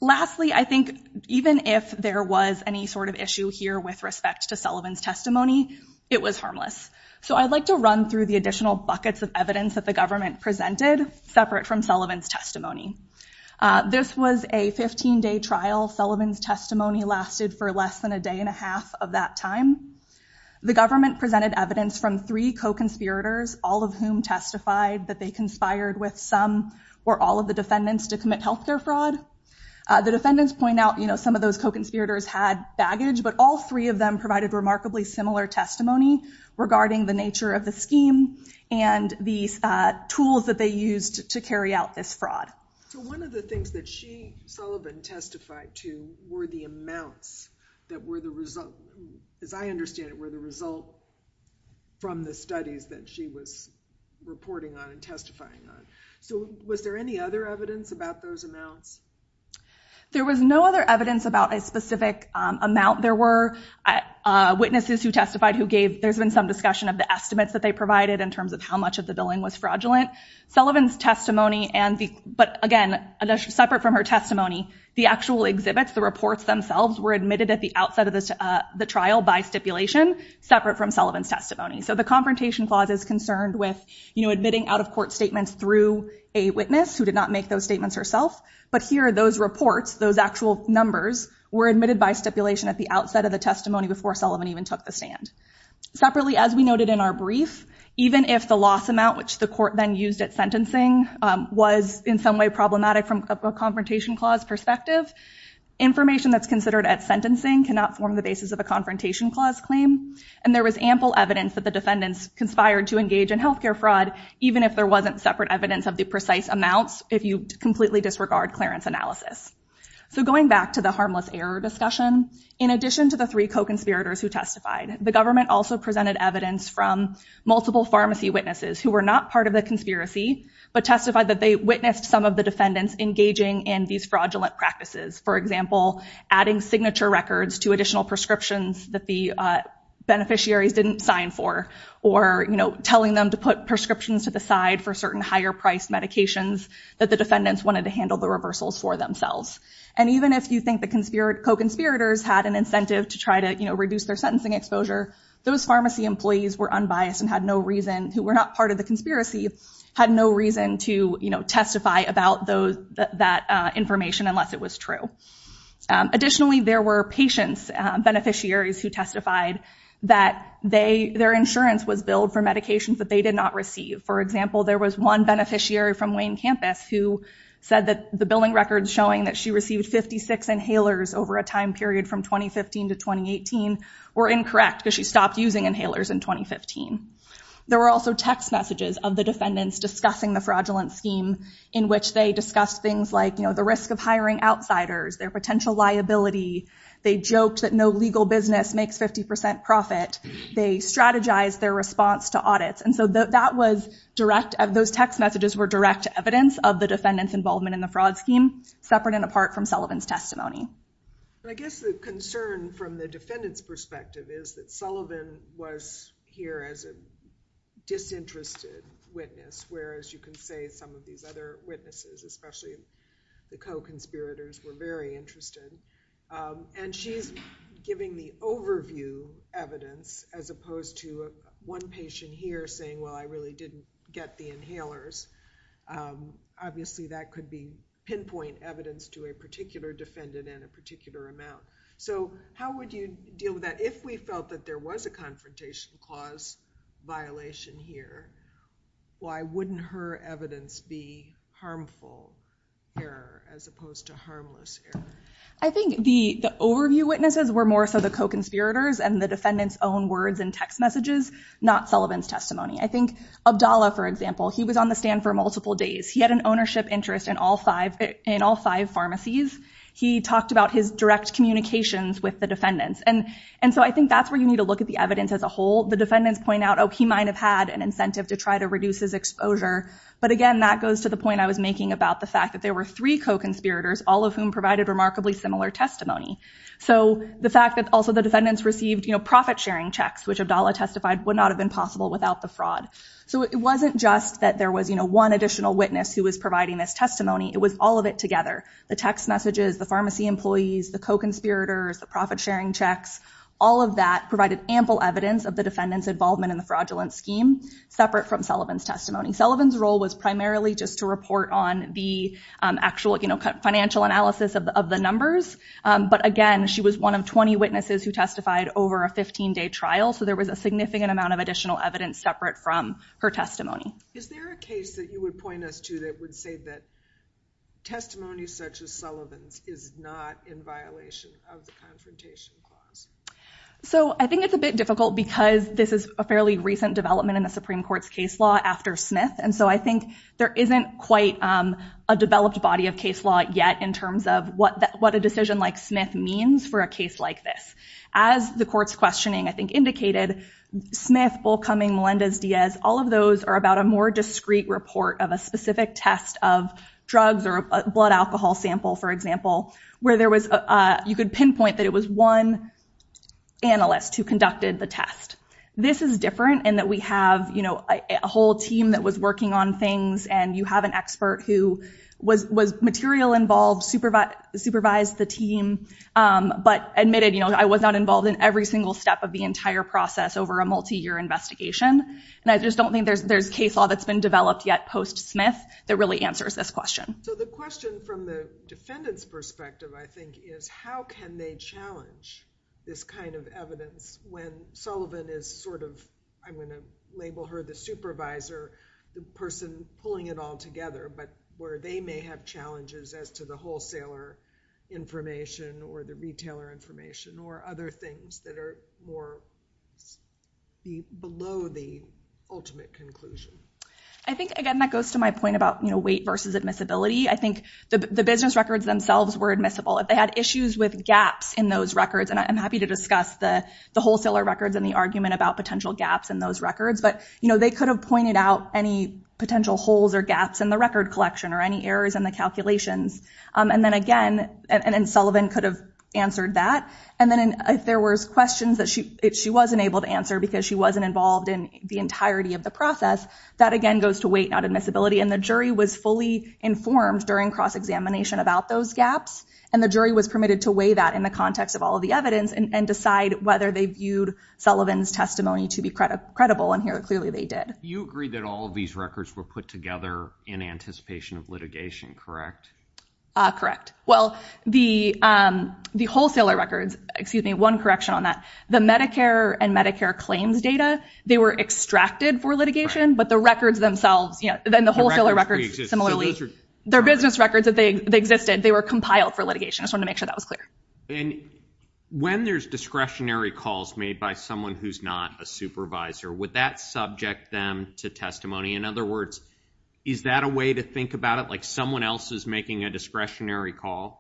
Lastly, I think even if there was any sort of issue here with respect to Sullivan's testimony, it was harmless. So I'd like to run through the additional buckets of evidence that the government presented separate from Sullivan's testimony. This was a 15-day trial. Sullivan's testimony lasted for less than a day and a half of that time. The government presented evidence from three co-conspirators, all of whom testified that they conspired with some or all of the defendants to commit health care fraud. The defendants point out, you know, some of those co-conspirators had baggage, but all three of them provided remarkably similar testimony regarding the nature of the scheme and the tools that they used to carry out this fraud. So one of the things that she, Sullivan, testified to were the amounts that were the result, as I understand it, were the result from the studies that she was reporting on and testifying on. So was there any other evidence about those amounts? There was no other evidence about a specific amount. There were witnesses who testified who gave, there's been some discussion of the estimates that they provided in terms of how much of the billing was fraudulent. Sullivan's testimony and the, but again, separate from her testimony, the actual exhibits, the reports themselves were admitted at the outset of the trial by stipulation separate from Sullivan's testimony. So the confrontation clause is concerned with, you know, admitting out of court statements through a witness who did not make those statements herself. But here, those reports, those actual numbers were admitted by stipulation at the outset of the testimony before Sullivan even took the stand. Separately, as we noted in our brief, even if the loss amount, which the court then used at sentencing was in some way problematic from a confrontation clause perspective, information that's considered at sentencing cannot form the basis of a confrontation clause claim. And there was ample evidence that the defendants conspired to engage in healthcare fraud, even if there wasn't separate evidence of the precise amounts, if you completely disregard clearance analysis. So going back to the harmless error discussion, in addition to the three co-conspirators who testified, the government also presented evidence from multiple pharmacy witnesses who were not part of the conspiracy, but testified that they witnessed some of the defendants engaging in these fraudulent practices. For example, adding signature records to additional prescriptions that the beneficiary didn't sign for, or, you know, telling them to put prescriptions to the side for certain higher-priced medications that the defendants wanted to handle the reversals for themselves. And even if you think the co-conspirators had an incentive to try to, you know, reduce their sentencing exposure, those pharmacy employees were unbiased and were not part of the conspiracy, had no reason to testify about that information unless it was true. Additionally, there were patient beneficiaries who testified that their insurance was billed for medications that they did not receive. For example, there was one beneficiary from Wayne Campus who said that the billing records showing that she received 56 inhalers over a time period from 2015 to 2018 were incorrect because she stopped using inhalers in 2015. There were also text messages of the defendants discussing the fraudulent scheme in which they discussed things like, you know, the risk of hiring outsiders, their potential liability. They joked that no legal business makes 50% profit. They strategized their response to audits. And so that was direct, those text messages were direct evidence of the defendants' involvement in the fraud scheme, separate and apart from Sullivan's testimony. I guess the concern from the defendant's perspective is that Sullivan was here as a disinterested witness, whereas you can say some of these other witnesses, especially the co-conspirators, were very interested. And she's giving the overview evidence as opposed to one patient here saying, well, I really didn't get the inhalers. Obviously, that could be pinpoint evidence to a particular defendant and a particular amount. So how would you deal with that? If we felt that there was a confrontation cause violation here, why wouldn't her evidence be harmful error as opposed to harmless error? I think the overview witnesses were more so the co-conspirators and the defendants' own words and text messages, not Sullivan's testimony. I think Abdallah, for example, he was on the stand for days. He had an ownership interest in all five pharmacies. He talked about his direct communications with the defendants. And so I think that's where you need to look at the evidence as a whole. The defendants point out, oh, he might have had an incentive to try to reduce his exposure. But again, that goes to the point I was making about the fact that there were three co-conspirators, all of whom provided remarkably similar testimony. So the fact that also the defendants received profit-sharing checks, which Abdallah testified would not have been possible without the fraud. So it wasn't just that there was one additional witness who was providing this testimony. It was all of it together. The text messages, the pharmacy employees, the co-conspirators, the profit-sharing checks, all of that provided ample evidence of the defendants' involvement in the fraudulent scheme, separate from Sullivan's testimony. Sullivan's role was primarily just to report on the actual financial analysis of the numbers. But again, she was one of 20 witnesses who testified over a 15-day trial. So there was a significant amount of additional evidence separate from her testimony. Is there a case that you would point us to that would say that testimony such as Sullivan is not in violation of the Confrontation Clause? So I think it's a bit difficult because this is a fairly recent development in the Supreme Court's case law after Smith. And so I think there isn't quite a developed body of case law yet in terms of what a decision like Smith means for a case like this. As the court's questioning, I think, indicated, Smith, Bullcumming, Melendez-Diaz, all of those are about a more discreet report of a specific test of drugs or a blood alcohol sample, for example, where you could pinpoint that it was one analyst who conducted the test. This is different in that we have a whole team that was working on things. And you have an expert who was material involved, supervised the team, but admitted, you know, I was not involved in every single step of the entire process over a multi-year investigation. And I just don't think there's case law that's been developed yet post-Smith that really answers this question. So the question from the defendant's perspective, I think, is how can they challenge this kind of evidence when Sullivan is sort of, I'm going to label her the supervisor, the person pulling it all together, but where they may have challenges as to the wholesaler information or the retailer information or other things that are more below the ultimate conclusion? I think, again, that goes to my point about weight versus admissibility. I think the business records themselves were admissible. If they had issues with gaps in those records, and I'm happy to discuss the wholesaler records and the argument about potential gaps in those records, but they could have pointed out any potential holes or gaps in the record collection or any errors in the calculations. And then again, and Sullivan could have answered that. And then if there were questions that she wasn't able to answer because she wasn't involved in the entirety of the process, that again goes to weight, not admissibility. And the jury was fully informed during cross-examination about those gaps. And the jury was permitted to weigh that in the context of all the evidence and decide whether they viewed Sullivan's testimony to be credible. And here, clearly, they did. You agree that all of these records were put together in anticipation of litigation, correct? Correct. Well, the wholesaler records, excuse me, one correction on that, the Medicare and Medicare claims data, they were extracted for litigation, but the records themselves, then the wholesaler records, similarly, their business records that existed, they were compiled for litigation. I just wanted to make sure that was clear. And when there's discretionary calls made by someone who's not a supervisor, would that subject them to testimony? In other words, is that a way to think about it? Like someone else is making a discretionary call,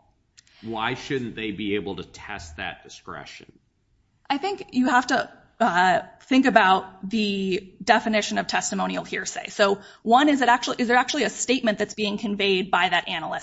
why shouldn't they be able to test that discretion? I think you have to think about the definition of testimonial hearsay. So one, is there actually a statement that's being conveyed?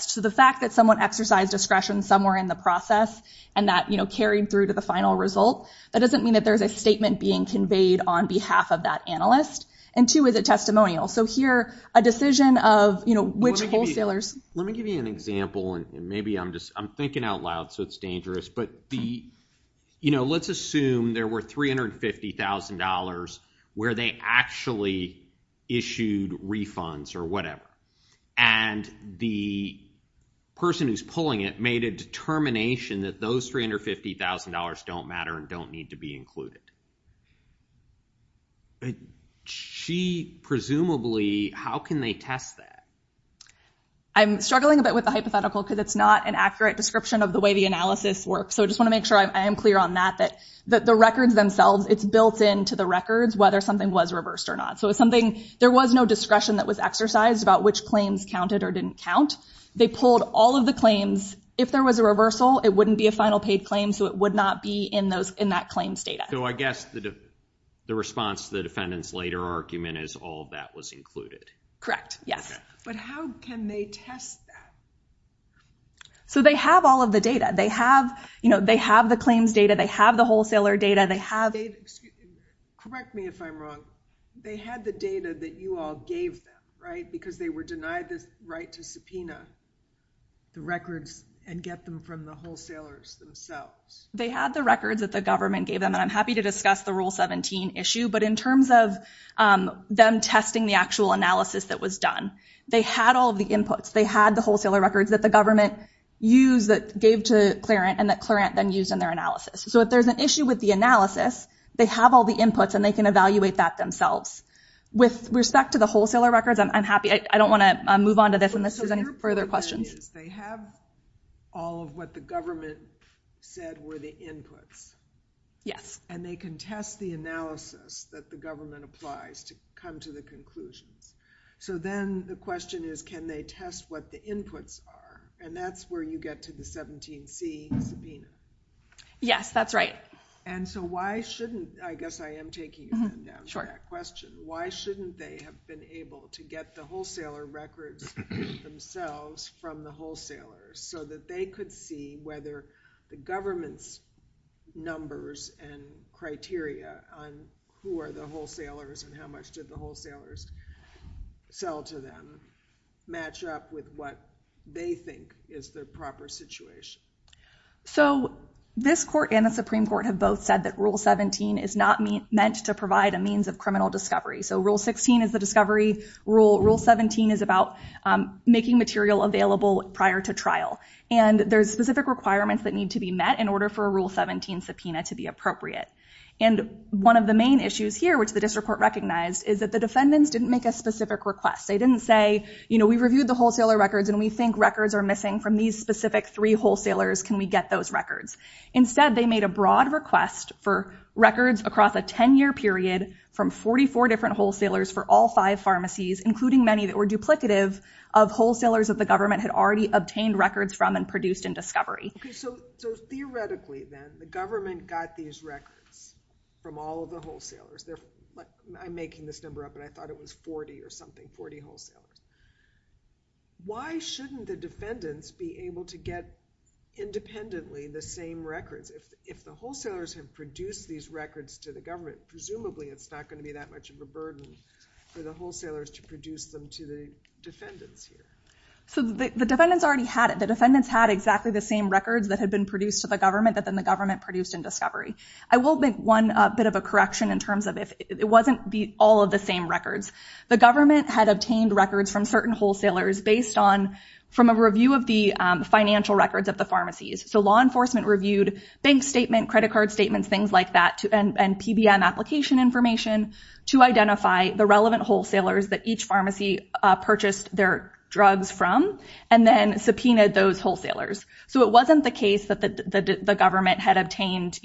So the fact that someone exercised discretion somewhere in the process and that carried through to the final result, that doesn't mean that there's a statement being conveyed on behalf of that analyst. And two, is it testimonial? So here, a decision of which wholesalers- Let me give you an example, and maybe I'm just, I'm thinking out loud, so it's dangerous, but let's assume there were $350,000 where they actually issued refunds or whatever. And the person who's pulling it made a determination that those $350,000 don't matter and don't need to be included. She presumably, how can they test that? I'm struggling a bit with the hypothetical because it's not an accurate description of the way the analysis works. So I just want to make sure I am clear on that, that the records themselves, it's built into the records whether something was reversed or not. So it's claims counted or didn't count. They pulled all of the claims. If there was a reversal, it wouldn't be a final paid claim, so it would not be in that claims data. So I guess the response to the defendant's later argument is all that was included. Correct. Yes. But how can they test that? So they have all of the data. They have the claims data, they have the wholesaler data, they have- Correct me if I'm wrong. They had the data that you all gave them, right? Because they were denied the right to subpoena the records and get them from the wholesalers themselves. They had the records that the government gave them. I'm happy to discuss the Rule 17 issue, but in terms of them testing the actual analysis that was done, they had all the inputs. They had the wholesaler records that the government gave to Clarent and that Clarent then used in their analysis. So if there's an issue with the analysis, they have all the inputs and they can evaluate that themselves. With respect to the wholesaler records, I'm happy. I don't want to move on to this unless there's any further questions. They have all of what the government said were the inputs. Yes. And they can test the analysis that the government applies to come to the conclusion. So then the question is, can they test what the inputs are? And that's where you get to the 17C subpoena. Yes, that's right. And so why shouldn't, I guess I am taking that question, why shouldn't they have been able to get the wholesaler records themselves from the wholesalers so that they could see whether the government's numbers and criteria on who are the wholesalers and how much did the wholesalers sell to them match up with what they think is the proper situation? So this court and the Supreme Court have both said that Rule 17 is not meant to provide a means of criminal discovery. So Rule 16 is the discovery. Rule 17 is about making material available prior to trial. And there's specific requirements that need to be met in order for a Rule 17 subpoena to be appropriate. And one of the main issues here, which the district court recognized, is that the defendants didn't make a specific request. They didn't say, you know, we reviewed the wholesaler records and we think records are missing from these specific three wholesalers, can we get those records? Instead, they made a broad request for records across a 10-year period from 44 different wholesalers for all five pharmacies, including many that were duplicative of wholesalers that the government had already obtained records from and produced in discovery. So theoretically then, the government got these records from all of the wholesalers. I'm making this number up and I thought it was 40 or something, 40 wholesalers. Why shouldn't the defendants be able to get independently the same records? If the wholesalers have produced these records to the government, presumably it's not going to be that much of a burden for the wholesalers to produce them to the defendants. So the defendants already had it. The defendants had exactly the same records that had been produced to the government, but then the government produced in discovery. I will make one bit of a correction in terms of if it wasn't all of the same records. The government had obtained records from certain wholesalers based on from a review of the financial records at the pharmacies. So law enforcement reviewed bank statement, credit card statements, things like that, and PBM application information to identify the relevant wholesalers that each pharmacy purchased their drugs from, and then subpoenaed those wholesalers. So it wasn't the case that the government had obtained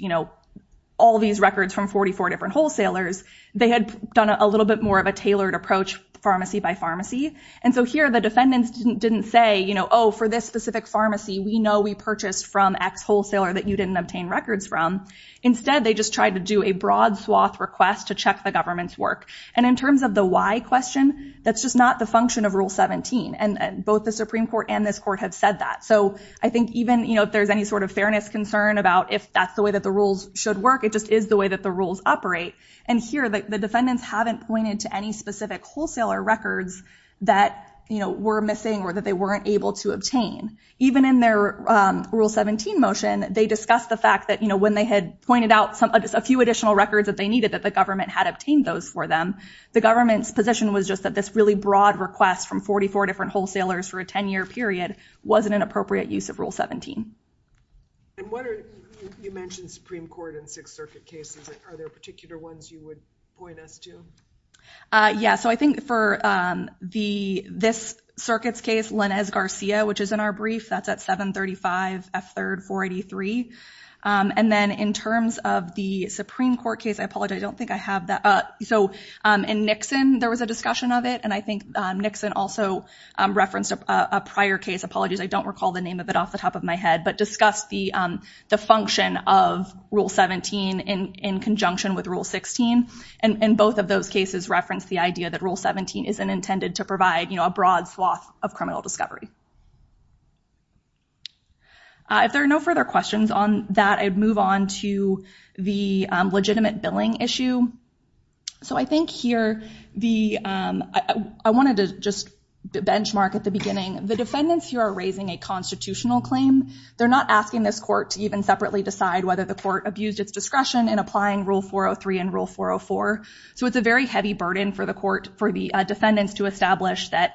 all these records from 44 different wholesalers. They had done a little bit more of a tailored approach pharmacy by pharmacy. And so here the defendants didn't say, oh, for this specific pharmacy, we know we purchased from X wholesaler that you didn't obtain records from. Instead, they just tried to do a broad swath request to check the government's work. And in terms of the why question, that's just not the function of Rule 17, and both the Supreme Court and this court have said that. So I think even if there's any sort of fairness concern about if that's the way that the rules should work, it just is the way that the rules operate. And here the defendants haven't pointed to any specific wholesaler records that were missing or that they weren't able to obtain. Even in their Rule 17 motion, they discussed the fact that when they had pointed out a few additional records that they needed, that the government had obtained those for them. The government's position was just that this really broad request from 44 different wholesalers for a 10-year period wasn't an appropriate use of Rule 17. And you mentioned the Supreme Court and Sixth Circuit cases. Are there particular ones you would point us to? Yeah. So I think for this circuit's case, Lenez-Garcia, which is in our briefs, that's at 735 F3, 483. And then in terms of the Supreme Court case, I apologize, I don't think I have that. So in Nixon, there was a discussion of it. And I think Nixon also referenced a prior case, apologies, I don't recall the name of it off the top of my head, but discussed the function of Rule 17 in conjunction with Rule 16. And both of those cases reference the idea that Rule 17 isn't intended to provide a broad swath of criminal discovery. If there are no further questions on that, I'd move on to the legitimate billing issue. So I think here, I wanted to just benchmark at the beginning, the defendants here are raising a constitutional claim. They're not asking this court to even separately decide whether the court abused its discretion in applying Rule 403 and Rule 404. So it's a very heavy burden for the court, for the defendants to establish that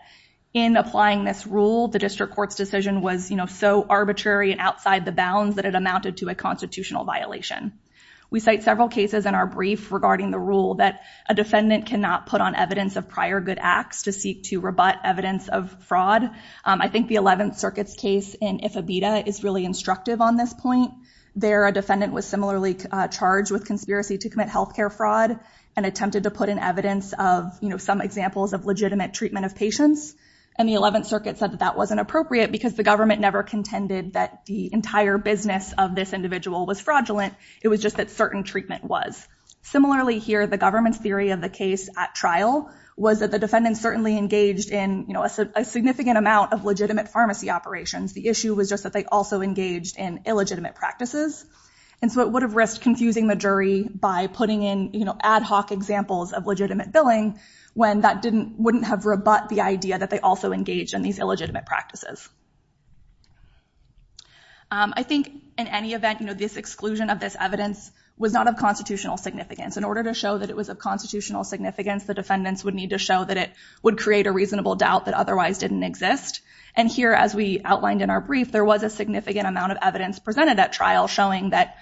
in applying this rule, the district court's decision was so arbitrary and outside the bounds that it amounted to a constitutional violation. We cite several cases in our brief regarding the rule that a defendant cannot put on evidence of prior good acts to seek to rebut evidence of fraud. I think the 11th Circuit's case in Ifebita is really instructive on this point. There, a defendant was similarly charged with conspiracy to commit healthcare fraud and attempted to put in evidence of some examples of legitimate treatment of patients. And the 11th Circuit said that that wasn't appropriate because the government never contended that the entire business of this individual was fraudulent. It was just that certain treatment was. Similarly here, the government's theory of the case at trial was that the defendant certainly engaged in a significant amount of legitimate pharmacy operations. The issue was just that they also engaged in illegitimate practices. And so it would have risked confusing the jury by putting in ad hoc examples of legitimate billing when that wouldn't have rebut the idea that they also engaged in these illegitimate practices. I think in any event, this exclusion of this evidence was not of constitutional significance. In order to show that it was of constitutional significance, the defendants would need to show that it would create a reasonable doubt that otherwise didn't exist. And here, as we outlined in our brief, there was a significant amount of evidence presented at trial showing that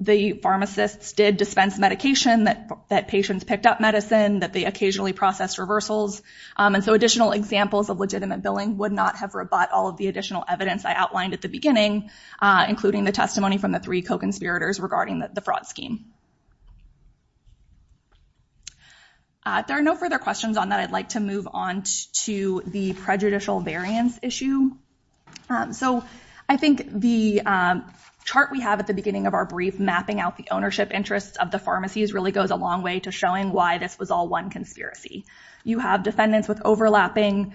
the pharmacists did dispense medication, that patients picked up medicine, that they occasionally processed reversals. And so additional examples of legitimate billing would not have rebut all the additional evidence I outlined at the beginning, including the testimony from the three co-conspirators regarding the fraud scheme. If there are no further questions on that, I'd like to move on to the prejudicial variance issue. So I think the chart we have at the beginning of our brief mapping out the ownership interests of the pharmacies really goes a long way to showing why this was all one conspiracy. You have defendants with overlapping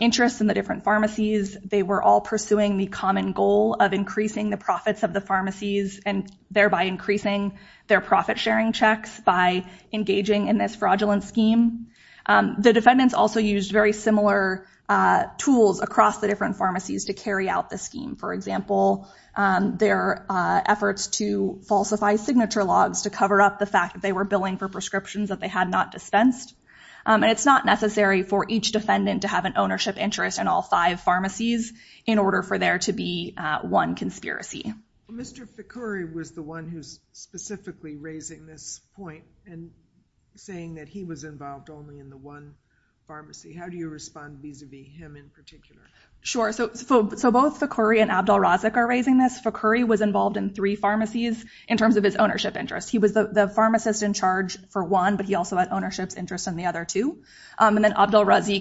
interests in the different pharmacies. They were all pursuing the common goal of increasing the profits of the pharmacies and thereby increasing their profit-sharing checks by engaging in this fraudulent scheme. The defendants also used very similar tools across the different pharmacies to carry out the scheme. For example, their efforts to falsify signature logs to cover up the fact that they were billing for prescriptions that they had not dispensed. And it's not necessary for each defendant to have an ownership interest in all five pharmacies in order for there to be one conspiracy. Mr. Ficuri was the one who's specifically raising this point and saying that he was involved only in the one pharmacy. How do you respond vis-a-vis him in particular? Sure. So both Ficuri and Abdul Razak are raising this. Ficuri was involved in three pharmacies in terms of his ownership interest. He was the pharmacist in charge for one, but he also had Razak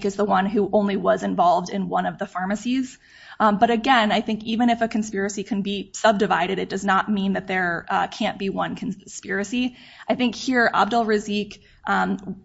as the one who only was involved in one of the pharmacies. But again, I think even if a conspiracy can be subdivided, it does not mean that there can't be one conspiracy. I think here, Abdul Razak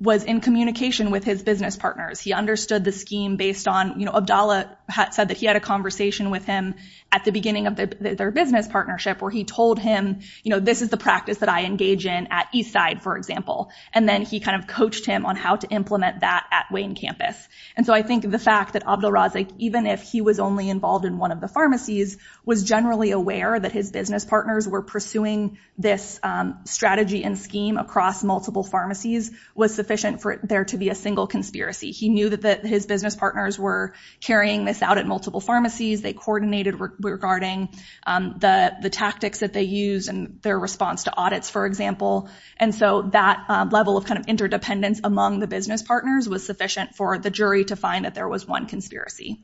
was in communication with his business partners. He understood the scheme based on, you know, Abdallah said that he had a conversation with him at the beginning of their business partnership where he told him, you know, this is the practice that I engage in at Eastside, for example. And then he kind of coached him on how to implement that at Wayne campus. And so I think the fact that Abdul Razak, even if he was only involved in one of the pharmacies, was generally aware that his business partners were pursuing this strategy and scheme across multiple pharmacies was sufficient for there to be a single conspiracy. He knew that his business partners were carrying this out at multiple pharmacies. They coordinated regarding the tactics that they use and their response to audits, for example. And so that level of kind of interdependence among the business partners was sufficient for the jury to find that there was one conspiracy.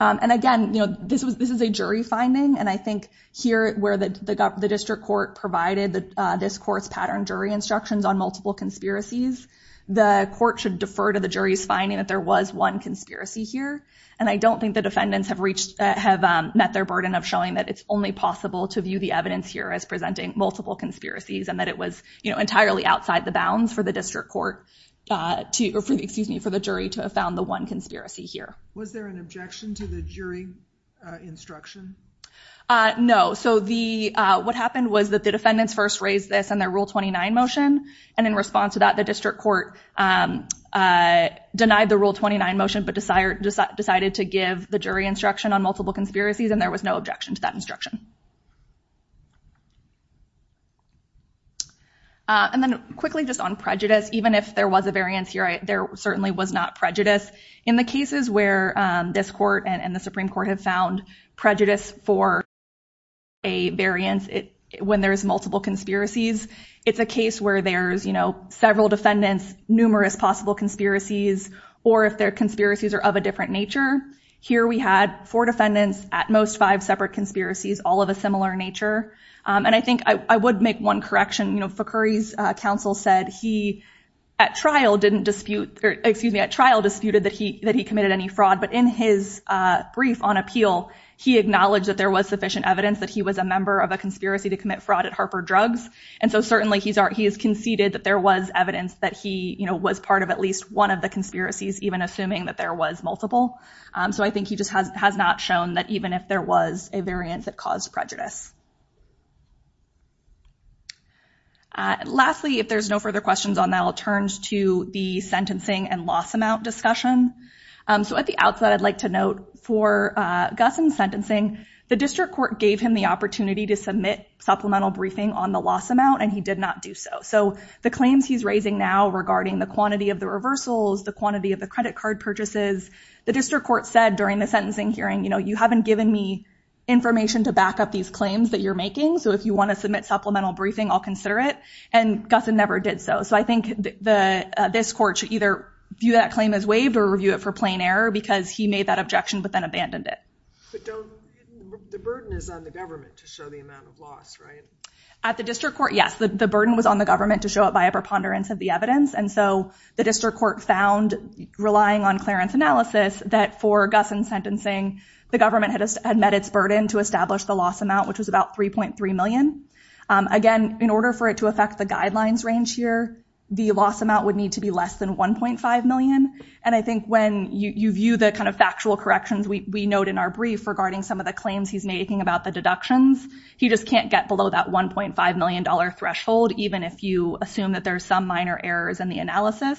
And again, you know, this is a jury finding. And I think here where the district court provided this court's pattern jury instructions on multiple conspiracies, the court should defer to the jury's finding that there was one conspiracy here. And I don't think the defendants have met their burden of showing that it's only possible to view the evidence here as presenting multiple conspiracies and that it was, you know, entirely outside the bounds for the district court to, excuse me, for the jury to have found the one conspiracy here. Was there an objection to the jury instruction? No. So what happened was that the defendants first raised this in their Rule 29 motion. And in response to that, the district court denied the Rule 29 motion but decided to give the jury instruction on multiple conspiracies, and there was no objection to that instruction. And then quickly just on prejudice, even if there was a variance here, there certainly was not prejudice. In the cases where this court and the Supreme Court has found prejudice for a variance when there's multiple conspiracies, it's a case where there's, you know, several defendants, numerous possible conspiracies, or if their conspiracies are of a different nature. Here we had four defendants, at most five separate conspiracies, all of a similar nature. And I think I would make one correction. You know, Foucuri's counsel said he, at trial, didn't dispute, excuse me, at trial disputed that he committed any fraud. But in his brief on appeal, he acknowledged that there was sufficient evidence that he was a member of a conspiracy to commit fraud at Harper Drugs. And so certainly he's conceded that there was evidence that he, you know, was part of at least one of the conspiracies, even assuming that there was multiple. So I think he just has not shown that even if there was a variance, it caused prejudice. Lastly, if there's no further questions on that, I'll turn to the sentencing and loss amount discussion. So at the outset, I'd like to note for Guson's sentencing, the district court gave him the opportunity to submit supplemental briefing on the loss amount, and he did not do so. So the claims he's raising now regarding the quantity of the reversals, the quantity of the credit card purchases, the district court said during the sentencing hearing, you know, you haven't given me information to back up these claims that you're making. So if you want to submit supplemental briefing, I'll consider it. And Guson never did so. So I think this court should either view that claim as waived or review it for plain error because he made that objection but then abandoned it. But the burden is on the government to show the amount of loss, right? At the district court, yes, the burden was on the government to show it by a preponderance of the evidence. And so the district court found, relying on Clarence analysis, that for Guson's sentencing, the government had met its burden to establish the loss amount, which was about $3.3 million. Again, in order for it to affect the guidelines range here, the loss amount would need to be less than $1.5 million. And I think when you view the kind of factual corrections we note in our brief regarding some of the claims he's making about the deductions, he just can't get below that $1.5 million threshold, even if you assume that there's some minor errors in the analysis.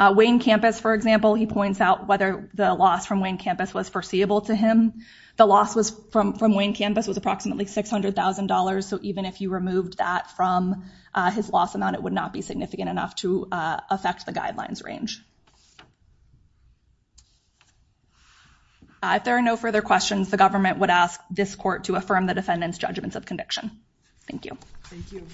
Wayne Campus, for example, he points out whether the loss from Wayne Campus was foreseeable to him. The loss from Wayne Campus was approximately $600,000. So even if you removed that from his loss amount, it would not be significant enough to affect the guidelines range. If there are no further questions, the government would ask this court to affirm the defendant's judgment of conviction. Thank you. Thank you.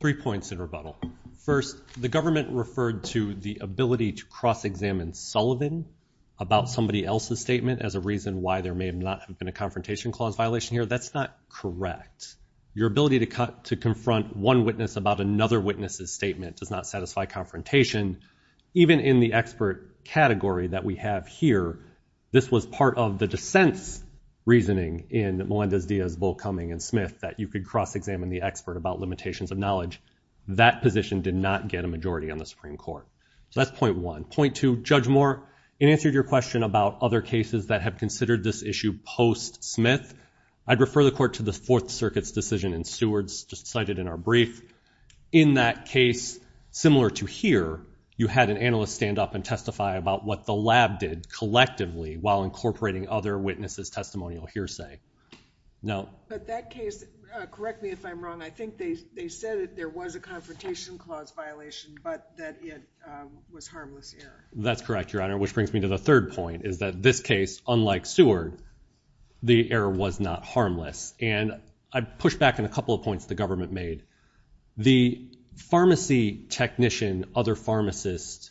Three points in rebuttal. First, the government referred to the ability to cross-examine Sullivan about somebody else's statement as a reason why there may not have been a confrontation clause violation here. That's not correct. Your ability to confront one witness about another witness's statement does not satisfy confrontation. Even in the expert category that we have here, this was part of the dissent's reasoning in Melinda Zia's, Bull, Cumming, and Smith that you could cross-examine the expert about limitations of knowledge. That position did not get a majority on the Supreme Court. So that's point one. Point two, Judge Moore, in answer to your question about other cases that have considered this issue post-Smith, I'd refer the court to the Fourth Circuit's decision in Stewards, just cited in our brief. In that case, similar to here, you had an analyst stand up and testify about what the lab did collectively while incorporating other witnesses' testimonial hearsay. No? But that case, correct me if I'm wrong, I think they said that there was a confrontation clause violation, but that it was harmless error. That's correct, Your Honor, which brings me to the third point, is that this case, unlike Seward, the error was not harmless. And I'd push back on a couple of points the government made. The pharmacy technician, other pharmacist's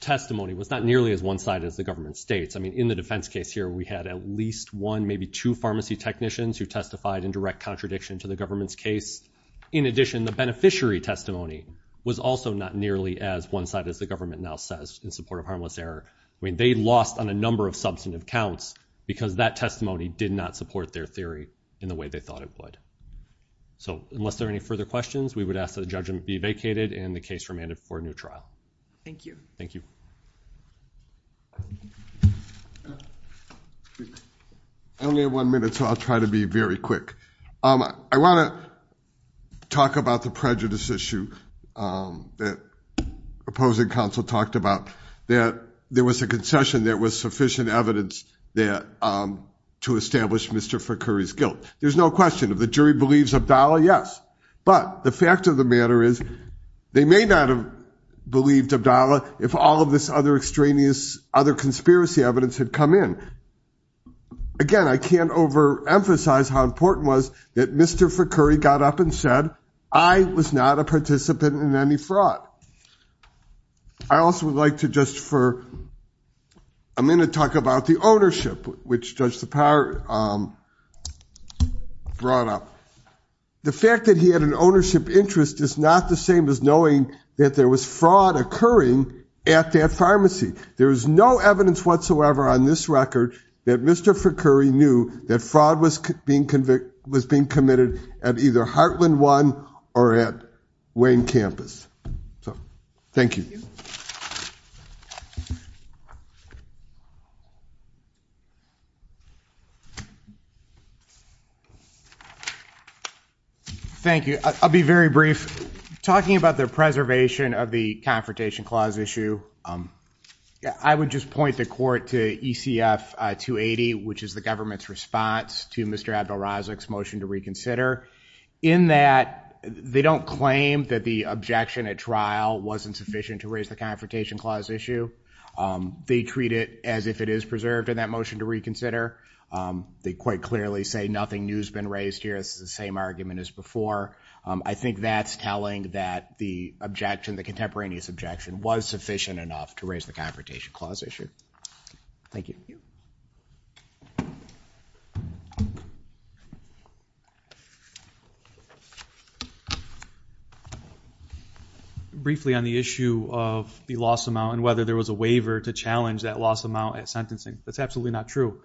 testimony was not nearly as one-sided as the government states. I mean, in the defense case here, we had at least one, maybe two pharmacy technicians who testified in direct contradiction to the government's case. In addition, the beneficiary testimony was also not nearly as one-sided as the government now says in support of harmless error. I mean, they lost on a number of substantive counts because that testimony did not support their theory in the way they thought it would. So unless there are any further questions, we would ask the judgment be vacated and the case remanded for a new trial. Thank you. Thank you. Only one minute, so I'll try to be very quick. I want to talk about the prejudice issue that opposing counsel talked about, that there was a concession that was sufficient evidence that to establish Mr. Frickery's guilt. There's no question that the jury believes Abdallah, yes. But the fact of the matter is they may not have believed Abdallah if all of this other extraneous other conspiracy evidence had come in. Again, I can't overemphasize how important was that Mr. Frickery got up and said, I was not a participant in any fraud. I also would like to just for, I'm going to talk about the ownership, which Judge Lepar brought up. The fact that he had an ownership interest is not the same as knowing that there was fraud occurring at that pharmacy. There is no evidence whatsoever on this record that Mr. Frickery knew that fraud was being committed. Thank you. I'll be very brief. Talking about the preservation of the Confrontation Clause issue, I would just point the court to ECF 280, which is the government's response to Mr. Abdel-Razak's motion to reconsider in that they don't claim that the objection at wasn't sufficient to raise the Confrontation Clause issue. They treat it as if it is preserved in that motion to reconsider. They quite clearly say nothing new has been raised here. It's the same argument as before. I think that's telling that the objection, the contemporaneous objection was sufficient enough to raise the Confrontation Clause issue. Thank you. Briefly on the issue of the loss amount and whether there was a waiver to challenge that loss amount at sentencing. That's absolutely not true.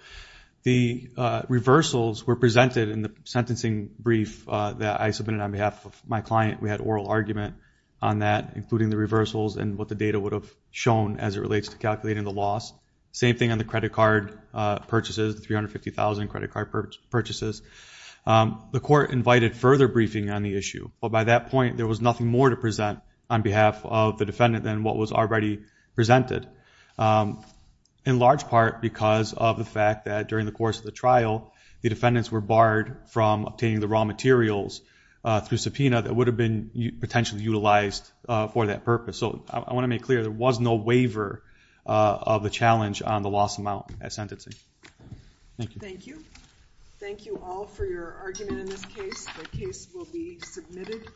The reversals were presented in the sentencing brief that I submitted on behalf of my client. We had oral argument on that, including the reversals and what the data would have shown as it relates to calculating the loss. Same thing on the credit card purchases, 350,000 credit card purchases. The court invited further briefing on the issue, but by that point, there was nothing more to present on behalf of the defendant than what was already presented, in large part because of the fact that during the course of the trial, the defendants were barred from obtaining the raw materials through subpoena that would have been potentially utilized for that purpose. So I want to make clear there was no waiver of a challenge on the loss amount at sentencing. Thank you. Thank you all for your argument in this case. The case will be permitted.